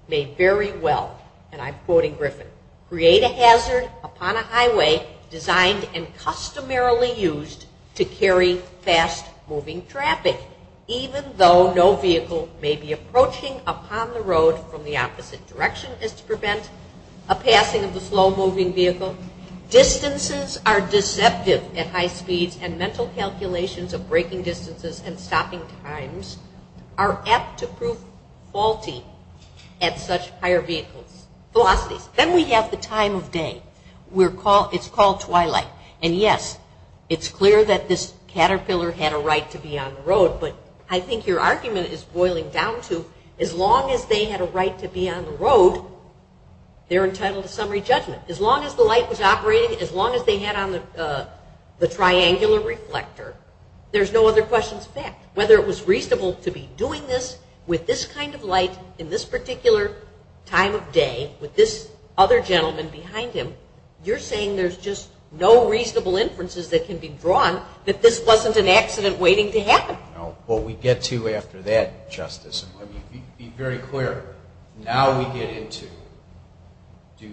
may very well, and I'm quoting Griffin, create a hazard upon a highway designed and customarily used to carry fast-moving traffic, even though no vehicle may be approaching upon the road from the opposite direction as to prevent a passing of the slow-moving vehicle. Distances are deceptive at high speeds, and mental calculations of braking distances and stopping times are apt to prove faulty at such higher velocities. Then we have the time of day. It's called twilight. And yes, it's clear that this caterpillar had a right to be on the road, but I think your argument is boiling down to as long as they had a right to be on the road, they're entitled to summary judgment. As long as the light was operating, as long as they had on the triangular reflector, there's no other questions of fact. Whether it was reasonable to be doing this with this kind of light in this particular time of day with this other gentleman behind him, you're saying there's just no reasonable inferences that can be drawn that this wasn't an accident waiting to happen. I don't know what we get to after that, Justice. Let me be very clear. Now we get into do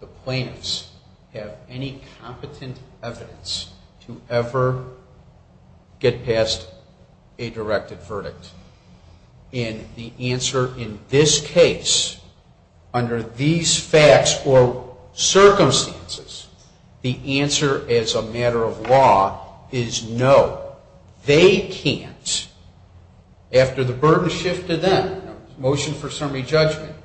the plaintiffs have any competent evidence to ever get past a directed verdict. And the answer in this case, under these facts or circumstances, the answer as a matter of law is no. They can't, after the burden shift to them, motion for summary judgment,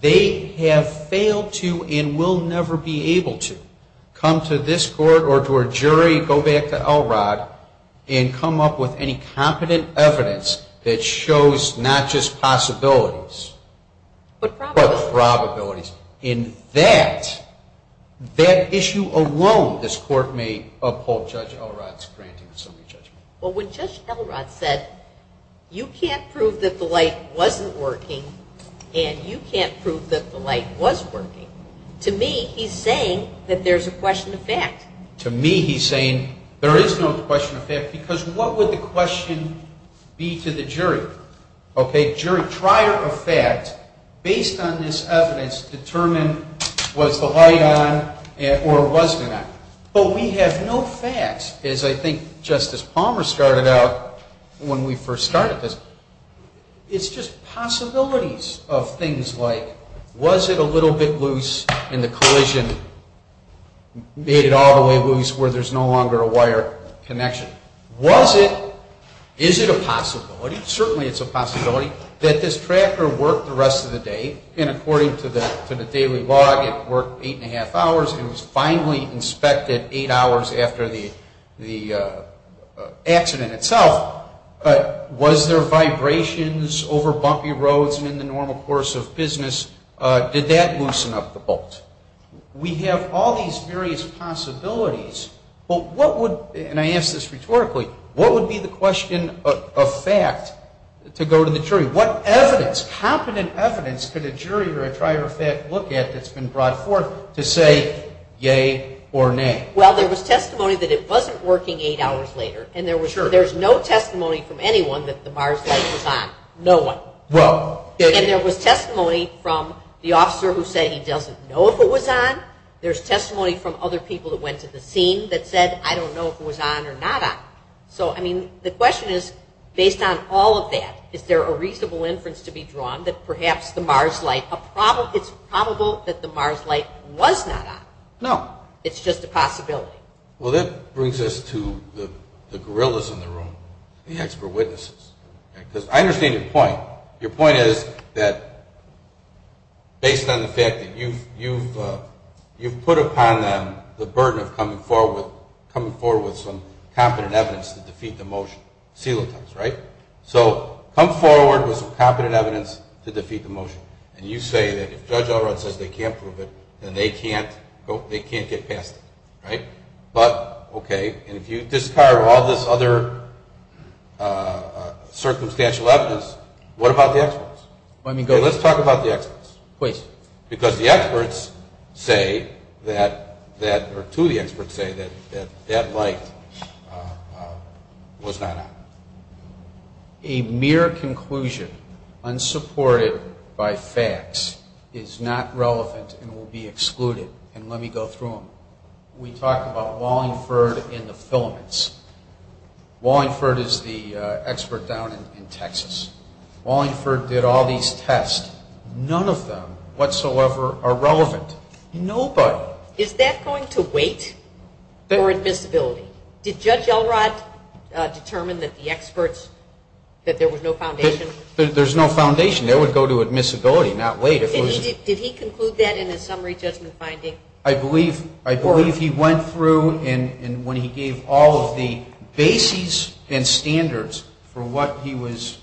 they have failed to and will never be able to come to this court or to a jury, go back to Elrod and come up with any competent evidence that shows not just possibilities, but probabilities. In that, that issue alone, this court may uphold Judge Elrod's granting of summary judgment. Well, when Judge Elrod said you can't prove that the light wasn't working and you can't prove that the light was working, to me he's saying that there's a question of fact. To me he's saying there is no question of fact, because what would the question be to the jury? Jury, trier of fact, based on this evidence, determine was the light on or was it not. But we have no facts, as I think Justice Palmer started out when we first started this. It's just possibilities of things like was it a little bit loose in the collision, made it all the way loose where there's no longer a wire connection. Was it, is it a possibility, certainly it's a possibility, that this tractor worked the rest of the day, and according to the daily log it worked eight and a half hours and was finally inspected eight hours after the accident itself. But was there vibrations over bumpy roads in the normal course of business? Did that loosen up the bolt? We have all these various possibilities, but what would, and I ask this rhetorically, what would be the question of fact to go to the jury? What evidence, competent evidence could a jury or a trier of fact look at that's been brought forth to say yay or nay? Well, there was testimony that it wasn't working eight hours later, and there was no testimony from anyone that the bars light was on, no one. Well. And there was testimony from the officer who said he doesn't know if it was on. There's testimony from other people that went to the scene that said, I don't know if it was on or not on. So, I mean, the question is, based on all of that, is there a reasonable inference to be drawn that perhaps the bars light, it's probable that the bars light was not on. No. It's just a possibility. Well, that brings us to the gorillas in the room, the expert witnesses, because I understand your point. Your point is that based on the fact that you've put upon them the burden of coming forward with some competent evidence to defeat the motion. So, come forward with some competent evidence to defeat the motion. And you say that if Judge Elrod says they can't prove it, then they can't get past it. But, okay, and if you discard all this other circumstantial evidence, what about the experts? Let's talk about the experts. Please. Because the experts say that that light was not on. A mere conclusion, unsupported by facts, is not relevant and will be excluded. And let me go through them. We talked about Wallingford and the filaments. Wallingford is the expert down in Texas. Wallingford did all these tests. None of them whatsoever are relevant. Nobody. Is that going to wait for admissibility? Did Judge Elrod determine that the experts, that there was no foundation? There's no foundation. That would go to admissibility, not wait. Did he conclude that in his summary judgment finding? I believe he went through and when he gave all of the bases and standards for what he was,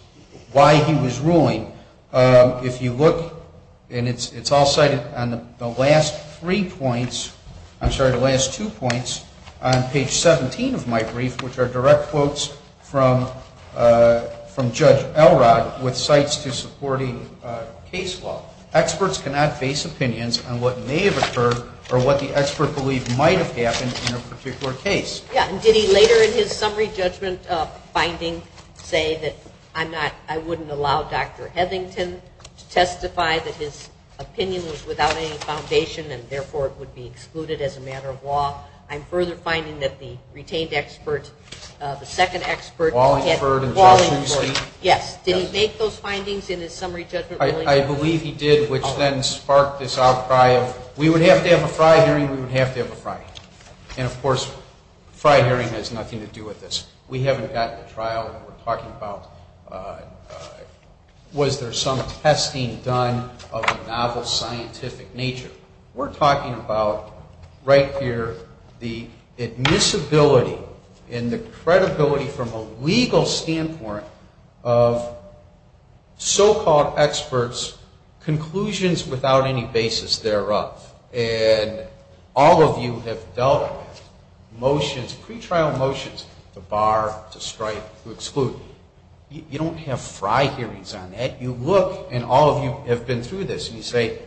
why he was ruling, if you look, and it's all cited on the last three points, I'm sorry, the last two points on page 17 of my brief, which are direct quotes from Judge Elrod with cites to supporting case law. Experts cannot base opinions on what may have occurred or what the expert believed might have happened in a particular case. And did he later in his summary judgment finding say that I'm not, I wouldn't allow Dr. Hethington to testify that his opinion was without any foundation and therefore it would be excluded as a matter of law? I'm further finding that the retained expert, the second expert, Wallingford, yes. Did he make those findings in his summary judgment ruling? I believe he did, which then sparked this outcry of we would have to have a fry hearing, we would have to have a fry hearing. And, of course, fry hearing has nothing to do with this. We haven't gotten to trial. We're talking about was there some testing done of a novel scientific nature. We're talking about right here the admissibility and the credibility from a legal standpoint of so-called experts' conclusions without any basis thereof. And all of you have dealt with motions, pretrial motions, to bar, to strike, to exclude. You don't have fry hearings on that. You look, and all of you have been through this, and you say,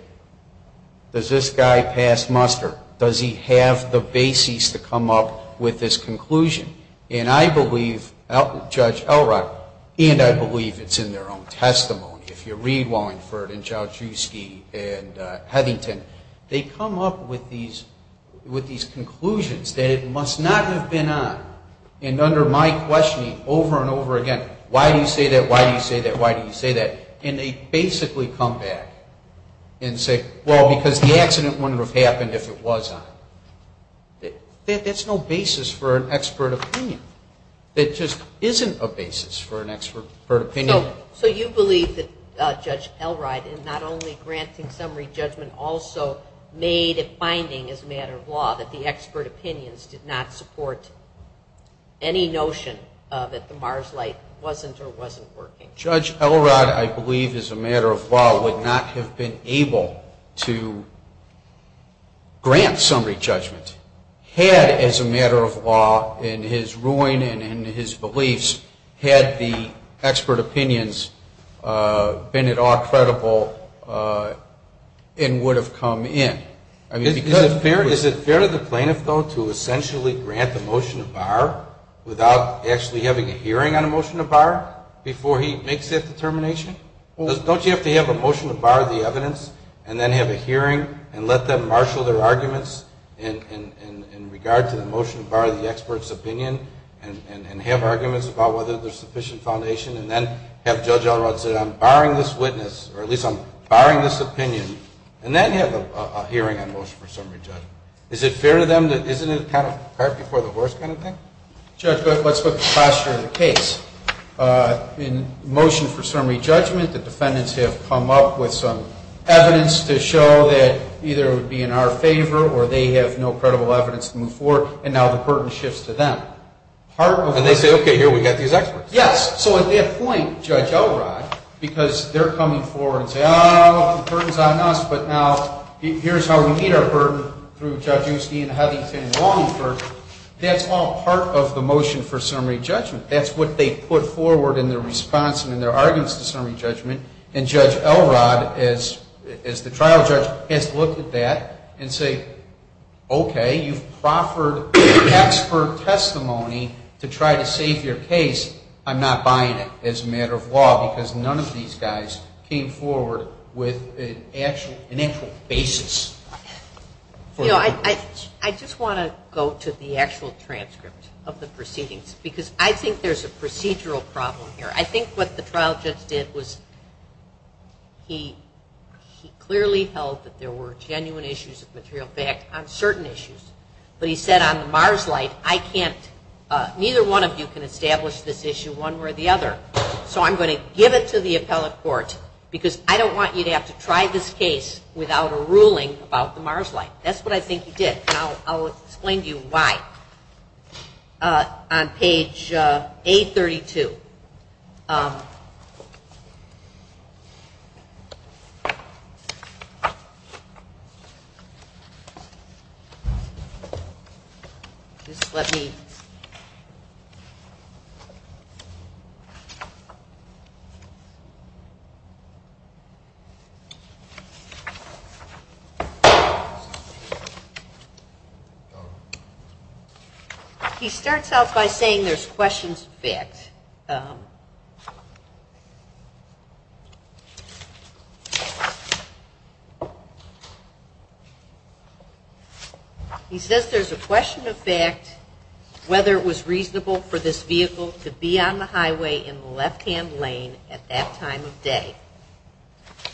does this guy pass muster? Does he have the basis to come up with this conclusion? And I believe, Judge Elrod, and I believe it's in their own testimony. If you read Wallingford and Jaworszewski and Hethington, they come up with these conclusions that it must not have been on. And under my questioning over and over again, why do you say that? Why do you say that? Why do you say that? And they basically come back and say, well, because the accident wouldn't have happened if it was on. That's no basis for an expert opinion. It just isn't a basis for an expert opinion. So you believe that Judge Elrod, in not only granting summary judgment, also made a finding as a matter of law that the expert opinions did not support any notion that the MARS light wasn't or wasn't working. Judge Elrod, I believe, as a matter of law, would not have been able to grant summary judgment had, as a matter of law, in his ruling and in his beliefs, had the expert opinions been at all credible and would have come in. Is it fair to the plaintiff, though, to essentially grant the motion to bar without actually having a hearing on a motion to bar before he makes that determination? Don't you have to have a motion to bar the evidence and then have a hearing and let them marshal their arguments in regard to the motion to bar the expert's opinion and have arguments about whether there's sufficient foundation and then have Judge Elrod say, I'm barring this witness, or at least I'm barring this opinion, and then have a hearing on motion for summary judgment. Is it fair to them? Isn't it kind of cart before the horse kind of thing? Judge, let's put the posture of the case. In motion for summary judgment, the defendants have come up with some evidence to show that either it would be in our favor or they have no credible evidence to move forward, and now the burden shifts to them. And they say, okay, here, we've got these experts. Yes. So at that point, Judge Elrod, because they're coming forward and saying, oh, the burden's on us, but now here's how we meet our burden through Judge Osteen, Hethington, and Longford, that's all part of the motion for summary judgment. That's what they put forward in their response and in their arguments to summary judgment. And Judge Elrod, as the trial judge, has to look at that and say, okay, you've proffered expert testimony to try to save your case. I'm not buying it as a matter of law because none of these guys came forward with an actual basis. You know, I just want to go to the actual transcript of the proceedings because I think there's a procedural problem here. I think what the trial judge did was he clearly held that there were genuine issues of material fact on certain issues, but he said on the Mars light, I can't, neither one of you can establish this issue one way or the other. So I'm going to give it to the appellate court because I don't want you to have to try this case without a ruling about the Mars light. That's what I think he did, and I'll explain to you why on page 832. He starts out by saying there's questions fit. He says there's a question of fact whether it was reasonable for this vehicle to be on the highway in the left-hand lane at that time of day.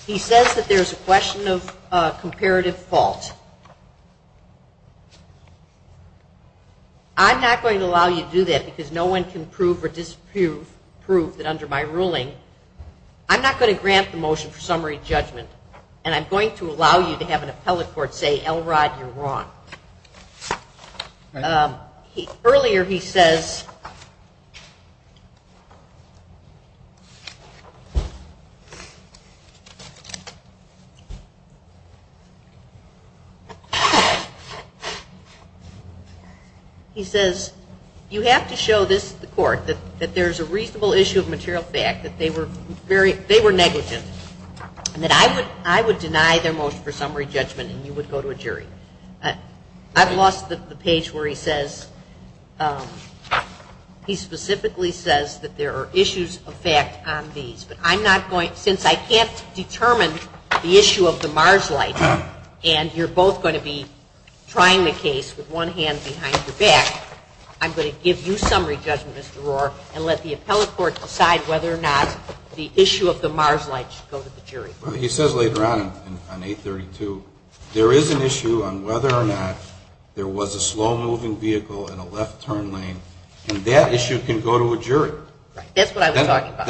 He says that there's a question of comparative fault. He says I'm not going to allow you to do that because no one can prove or disprove that under my ruling. I'm not going to grant the motion for summary judgment, and I'm going to allow you to have an appellate court say, Elrod, you're wrong. Earlier he says, he says you have to show this to the court, that there's a reasonable issue of material fact, that they were very, they were negligent, and that I would deny their motion for summary judgment and you would go to a jury. I've lost the page where he says, he specifically says that there are issues of fact on these, but I'm not going, since I can't determine the issue of the Mars light, and you're both going to be trying the case with one hand behind your back, I'm going to give you summary judgment, Mr. Rohr, and let the appellate court decide whether or not the issue of the Mars light should go to the jury. He says later on, on 832, there is an issue on whether or not there was a slow-moving vehicle in a left-turn lane, and that issue can go to a jury. That's what I was talking about.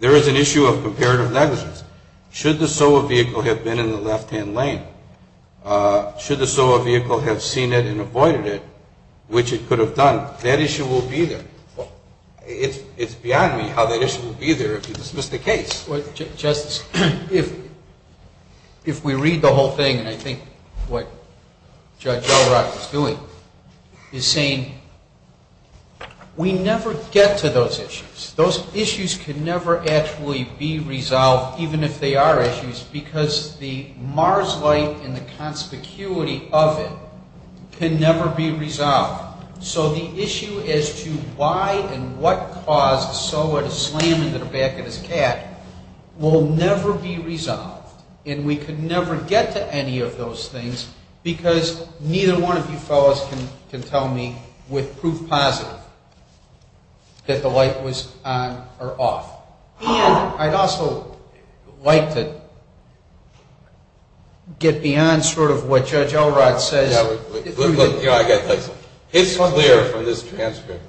There is an issue of comparative negligence. Should the slow-moving vehicle have been in the left-hand lane, should the slow-moving vehicle have seen it and avoided it, which it could have done, that issue will be there. It's beyond me how that issue will be there if you dismiss the case. Justice, if we read the whole thing, and I think what Judge O'Rourke is doing, is saying we never get to those issues. Those issues can never actually be resolved, even if they are issues, because the Mars light and the conspicuity of it can never be resolved. So the issue as to why and what caused Sowa to slam into the back of his cat will never be resolved, and we could never get to any of those things, because neither one of you fellows can tell me with proof positive that the light was on or off. And I'd also like to get beyond sort of what Judge O'Rourke says. It's clear from this transcript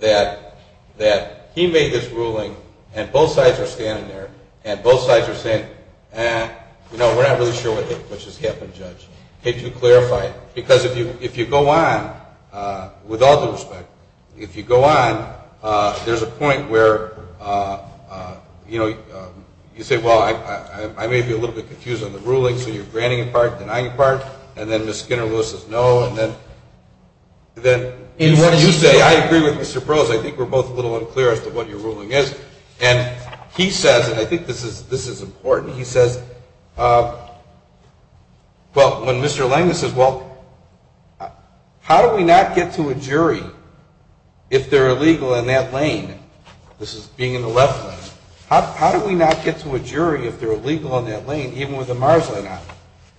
that he made this ruling and both sides are standing there and both sides are saying, you know, we're not really sure what hit which has happened, Judge. Could you clarify? Because if you go on, with all due respect, if you go on, there's a point where you say, well, I may be a little bit confused on the ruling. So you're granting a part, denying a part, and then Ms. Skinner-Lewis says no, and then you say, I agree with Mr. Brose, I think we're both a little unclear as to what your ruling is. And he says, and I think this is important, he says, well, when Mr. Langdon says, well, how do we not get to a jury if they're illegal in that lane? This is being in the left lane. How do we not get to a jury if they're illegal in that lane, even with the MARS light on?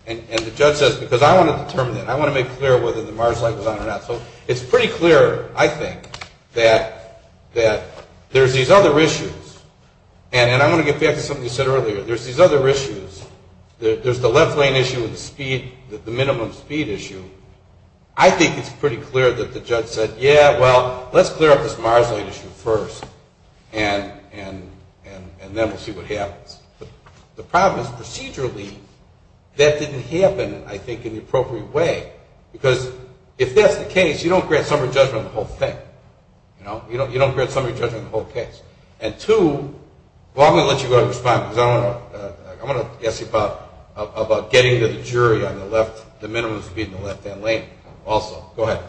And the judge says, because I want to determine that. I want to make clear whether the MARS light was on or not. So it's pretty clear, I think, that there's these other issues, and I want to get back to something you said earlier. There's these other issues. There's the left lane issue and the speed, the minimum speed issue. I think it's pretty clear that the judge said, yeah, well, let's clear up this MARS light issue first, and then we'll see what happens. The problem is, procedurally, that didn't happen, I think, in the appropriate way, because if that's the case, you don't grant summary judgment on the whole thing. You don't grant summary judgment on the whole case. And two, well, I'm going to let you go ahead and respond, because I want to ask you about getting to the jury on the minimum speed in the left-hand lane also. Go ahead.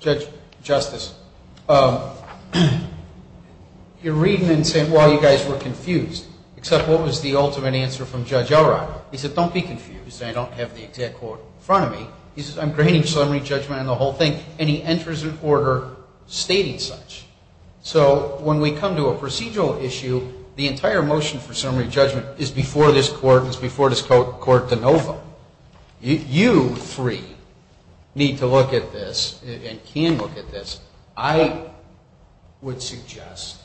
Judge Justice, you're reading and saying, well, you guys were confused, except what was the ultimate answer from Judge Elrod? He said, don't be confused, and I don't have the exact quote in front of me. He says, I'm granting summary judgment on the whole thing, and he enters an order stating such. So when we come to a procedural issue, the entire motion for summary judgment is before this court and it's before this court de novo. You three need to look at this and can look at this. I would suggest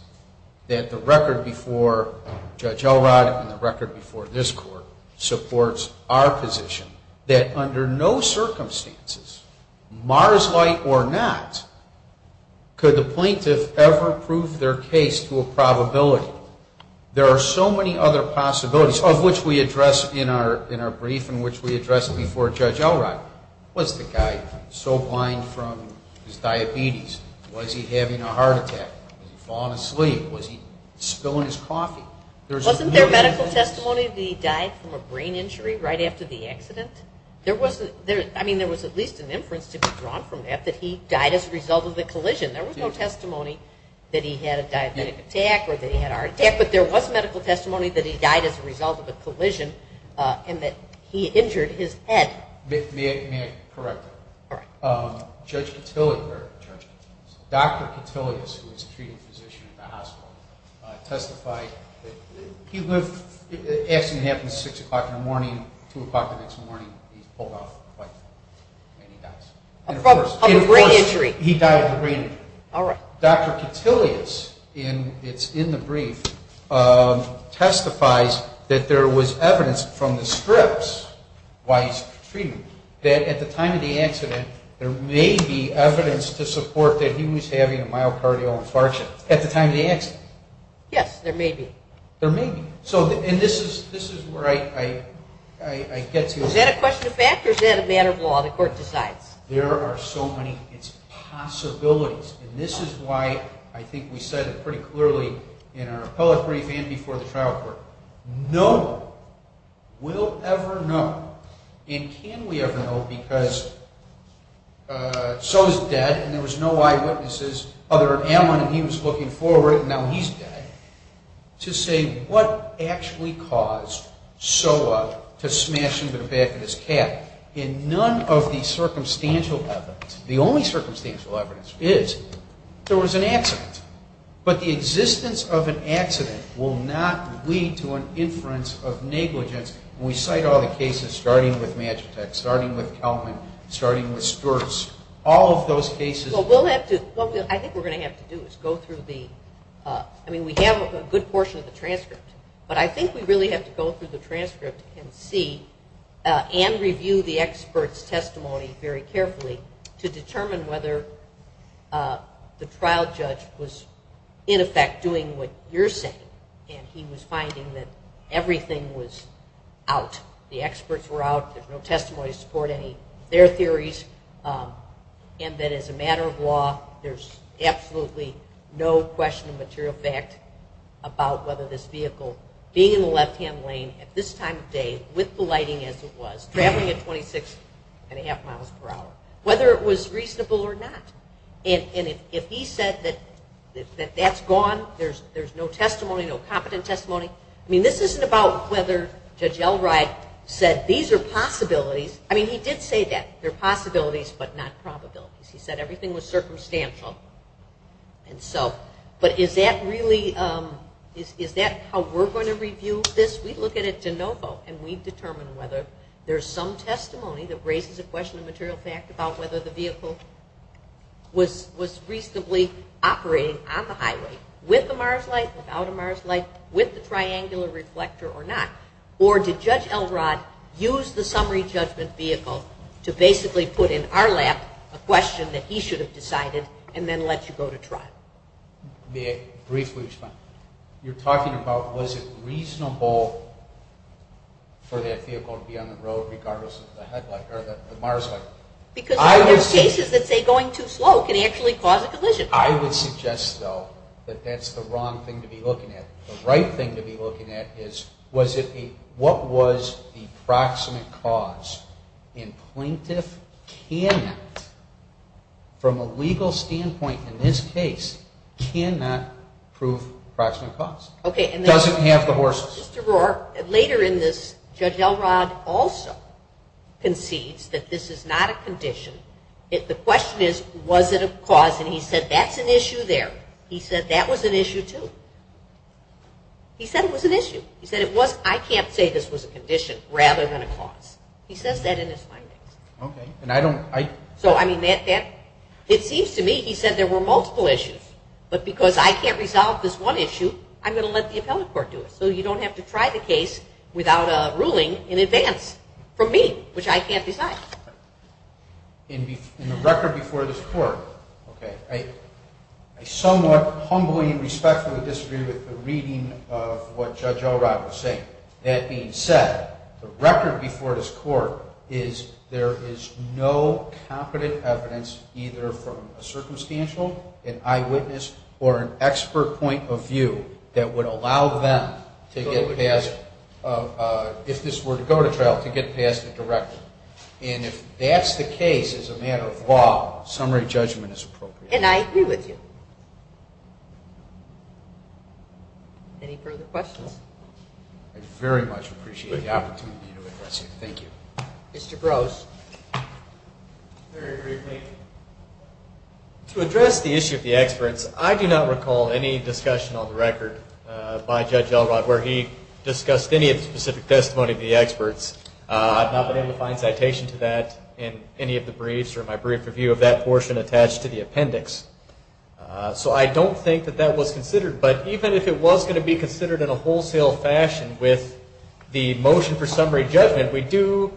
that the record before Judge Elrod and the record before this court supports our position that under no circumstances, Mars light or not, could the plaintiff ever prove their case to a probability? There are so many other possibilities, of which we address in our brief and which we addressed before Judge Elrod. Was the guy so blind from his diabetes? Was he having a heart attack? Was he falling asleep? Was he spilling his coffee? Wasn't there medical testimony that he died from a brain injury right after the accident? I mean, there was at least an inference to be drawn from that, that he died as a result of the collision. There was no testimony that he had a diabetic attack or that he had a heart attack, but there was medical testimony that he died as a result of a collision and that he injured his head. May I correct that? Judge Cotillia, Dr. Cotillia, who is a treating physician at the hospital, testified that he lived, the accident happened at 6 o'clock in the morning, 2 o'clock the next morning, he's pulled off the bike and he dies. And, of course, he died of a brain injury. Dr. Cotillia's, it's in the brief, testifies that there was evidence from the scripts while he was treating him that at the time of the accident there may be evidence to support that he was having a myocardial infarction at the time of the accident. Yes, there may be. There may be. Is that a question of fact or is that a matter of law? The court decides. There are so many possibilities, and this is why I think we said it pretty clearly in our appellate brief and before the trial court. No one will ever know, and can we ever know, because Soa's dead and there was no eyewitnesses other than Allen and he was looking forward and now he's dead, to say what actually caused Soa to smash into the back of his cab. In none of the circumstantial evidence, the only circumstantial evidence is there was an accident. But the existence of an accident will not lead to an inference of negligence. We cite all the cases starting with Magitek, starting with Kelman, starting with Stuart's, all of those cases. What I think we're going to have to do is go through the, I mean we have a good portion of the transcript, but I think we really have to go through the transcript and see and review the expert's testimony very carefully to determine whether the trial judge was in effect doing what you're saying and he was finding that everything was out. The experts were out, there's no testimony to support any of their theories and that as a matter of law there's absolutely no question of material fact about whether this vehicle being in the left-hand lane at this time of day with the lighting as it was, traveling at 26.5 miles per hour, whether it was reasonable or not. And if he said that that's gone, there's no testimony to support any of their theories and there's no competent testimony. I mean this isn't about whether Judge Elright said these are possibilities. I mean he did say that they're possibilities but not probabilities. He said everything was circumstantial. And so, but is that really, is that how we're going to review this? We look at it de novo and we determine whether there's some testimony that raises a question of material fact about whether the vehicle was reasonably operating on the highway with the MARS light, without a MARS light, with the triangular reflector or not. Or did Judge Elright use the summary judgment vehicle to basically put in our lap a question that he should have decided and then let you go to trial? May I briefly respond? You're talking about was it reasonable for that vehicle to be on the road regardless of the headlight or the MARS light? Because there are cases that say going too slow can actually cause a collision. I would suggest, though, that that's the wrong thing to be looking at. The right thing to be looking at is was it, what was the proximate cause? And plaintiff cannot, from a legal standpoint in this case, cannot prove proximate cause. Doesn't have the horses. Now, Justice DeRoar, later in this, Judge Elright also concedes that this is not a condition. The question is, was it a cause? And he said that's an issue there. He said that was an issue, too. He said it was an issue. He said it was, I can't say this was a condition rather than a cause. He says that in his findings. So, I mean, it seems to me he said there were multiple issues. But because I can't resolve this one issue, I'm going to let the appellate court do it. So you don't have to try the case without a ruling in advance from me, which I can't decide. In the record before this court, I somewhat humbly and respectfully disagree with the reading of what Judge Elright was saying. That being said, the record before this court is there is no competent evidence either from a circumstantial and eyewitness or an expert point of view that would allow them to get past, if this were to go to trial, to get past the director. And if that's the case as a matter of law, summary judgment is appropriate. And I agree with you. Any further questions? I very much appreciate the opportunity to address you. Thank you. Mr. Brose. Very briefly. To address the issue of the experts, I do not recall any discussion on the record by Judge Elright where he discussed any of the specific testimony of the experts. I've not been able to find citation to that in any of the briefs or my brief review of that portion attached to the appendix. So I don't think that that was considered. But even if it was going to be considered in a wholesale fashion with the motion for summary judgment, we do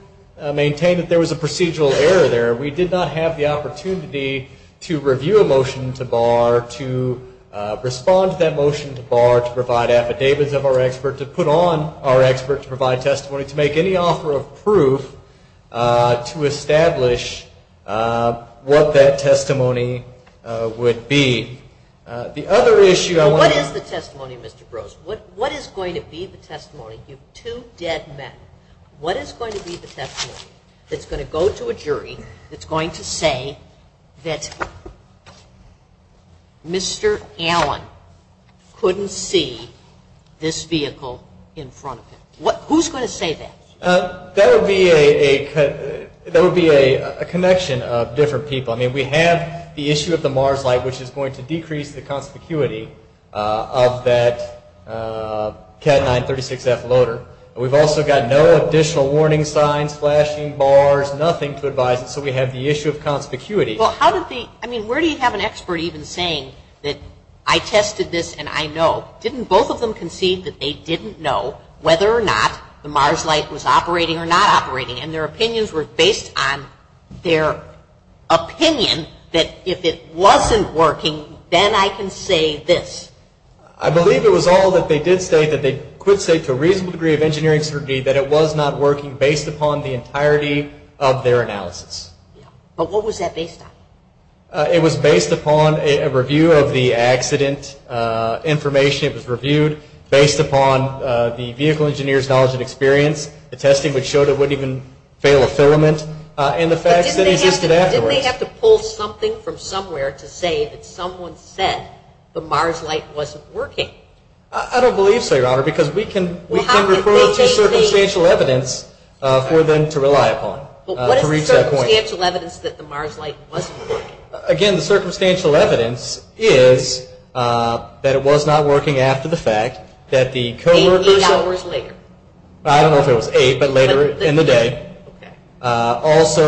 maintain that there was a procedural error there. We did not have the opportunity to review a motion to bar, to respond to that motion to bar, to provide affidavits of our expert, to put on our expert to provide testimony, to make any offer of proof to establish what that testimony would be. What is the testimony, Mr. Brose? What is going to be the testimony, you two dead men, what is going to be the testimony that's going to go to a jury that's going to say that Mr. Allen couldn't see this vehicle in front of him? Who's going to say that? That would be a connection of different people. I mean, we have the issue of the MARS light, which is going to decrease the conspicuity of that Cat 936F loader. We've also got no additional warning signs, flashing bars, nothing to advise us. So we have the issue of conspicuity. Well, how did the, I mean, where do you have an expert even saying that I tested this and I know. Didn't both of them concede that they didn't know whether or not the MARS light was operating or not operating and their opinions were based on their opinion that if it wasn't working, then I can say this. I believe it was all that they did say that they could say to a reasonable degree of engineering certainty that it was not working based upon the entirety of their analysis. But what was that based on? It was based upon a review of the accident information. It was reviewed based upon the vehicle engineer's knowledge and experience. The testing showed it wouldn't even fail a filament. Didn't they have to pull something from somewhere to say that someone said the MARS light wasn't working? I don't believe so, Your Honor, because we can refer to circumstantial evidence for them to rely upon. But what is the circumstantial evidence that the MARS light wasn't working? Again, the circumstantial evidence is that it was not working after the fact. Eight hours later. Also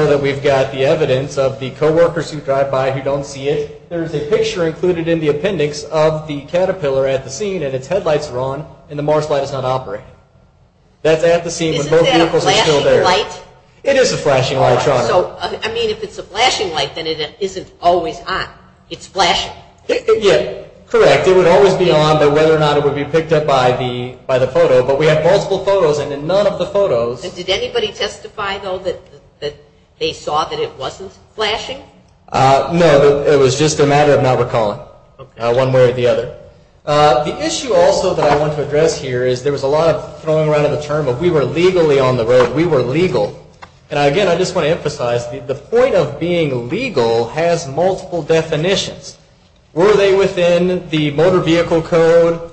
that we've got the evidence of the co-workers who drive by who don't see it. There's a picture included in the appendix of the Caterpillar at the scene and its headlights are on and the MARS light is not operating. Isn't that a flashing light? It is a flashing light, Your Honor. If it's a flashing light, then it isn't always on. It's flashing. Correct, it would always be on, but whether or not it would be picked up by the photo. But we have multiple photos and in none of the photos... Did anybody testify, though, that they saw that it wasn't flashing? No, it was just a matter of not recalling one way or the other. The issue also that I want to address here is there was a lot of throwing around of the term of we were legally on the road, we were legal. And again, I just want to emphasize the point of being legal has multiple definitions. Were they within the motor vehicle code?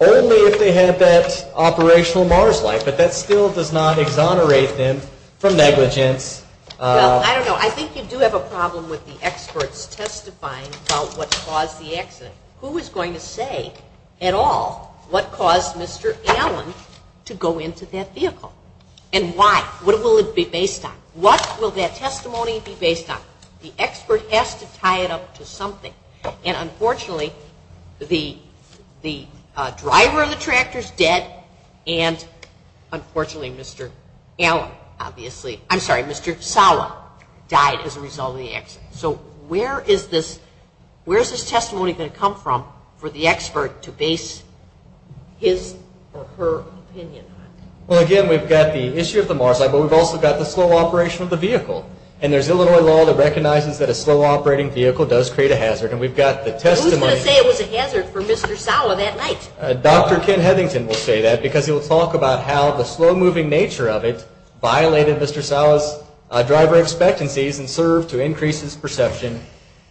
Only if they had that operational MARS light, but that still does not exonerate them from negligence. Well, I don't know, I think you do have a problem with the experts testifying about what caused the accident. Who is going to say at all what caused Mr. Allen to go into that vehicle? And why? What will it be based on? What will that testimony be based on? The expert has to tie it up to something. And unfortunately, the driver of the tractor is dead. And unfortunately, Mr. Allen, obviously, I'm sorry, Mr. Sawa died as a result of the accident. So where is this testimony going to come from for the expert to base his or her opinion on? Well, again, we've got the issue of the MARS light, but we've also got the slow operation of the vehicle. And there's Illinois law that recognizes that a slow operating vehicle does create a hazard. Who's going to say it was a hazard for Mr. Sawa that night? Dr. Ken Hethington will say that because he will talk about how the slow moving nature of it violated Mr. Sawa's driver expectancies and served to increase his perception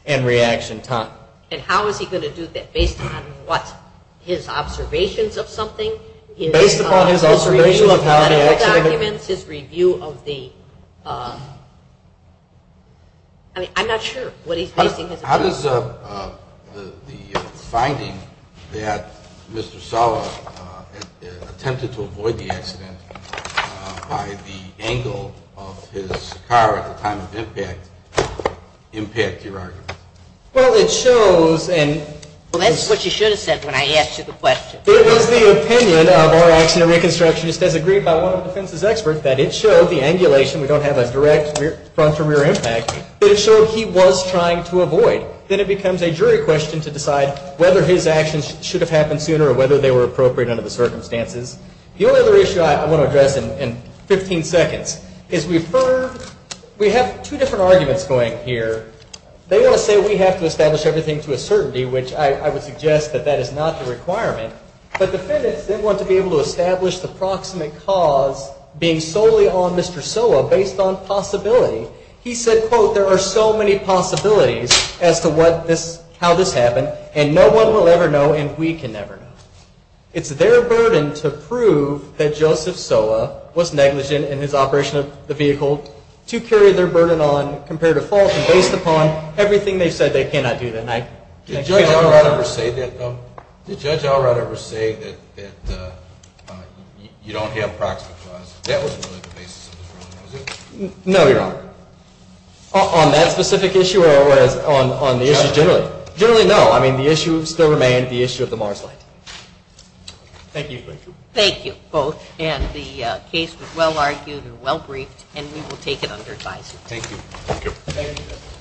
and reaction time. And how is he going to do that based on what? His observations of something? Based upon his observations of how the accident... I'm not sure what he's basing his... How does the finding that Mr. Sawa attempted to avoid the accident by the angle of his car at the time of impact impact your argument? Well, it shows... Well, that's what you should have said when I asked you the question. It was the opinion of our accident reconstructionist as agreed by one of the defense's experts that it showed the angulation, we don't have a direct front or rear impact, that it showed he was trying to avoid. Then it becomes a jury question to decide whether his actions should have happened sooner or whether they were appropriate under the circumstances. The only other issue I want to address in 15 seconds is we have two different arguments going here. They want to say we have to establish everything to a certainty, which I would suggest that that is not the requirement. But defendants, they want to be able to establish the proximate cause being solely on Mr. Sawa based on possibility. He said, quote, there are so many possibilities as to how this happened and no one will ever know and we can never know. It's their burden to prove that Joseph Sawa was negligent in his operation of the vehicle to carry their burden on compared to false and based upon everything they said they cannot do. Did Judge Allright ever say that you don't have proximate cause? That wasn't really the basis of his ruling, was it? No, Your Honor. On that specific issue or on the issue generally? Generally, no. I mean, the issue still remained the issue of the Mars Light. Thank you. Thank you both and the case was well argued and well briefed and we will take it under advisory. Thank you.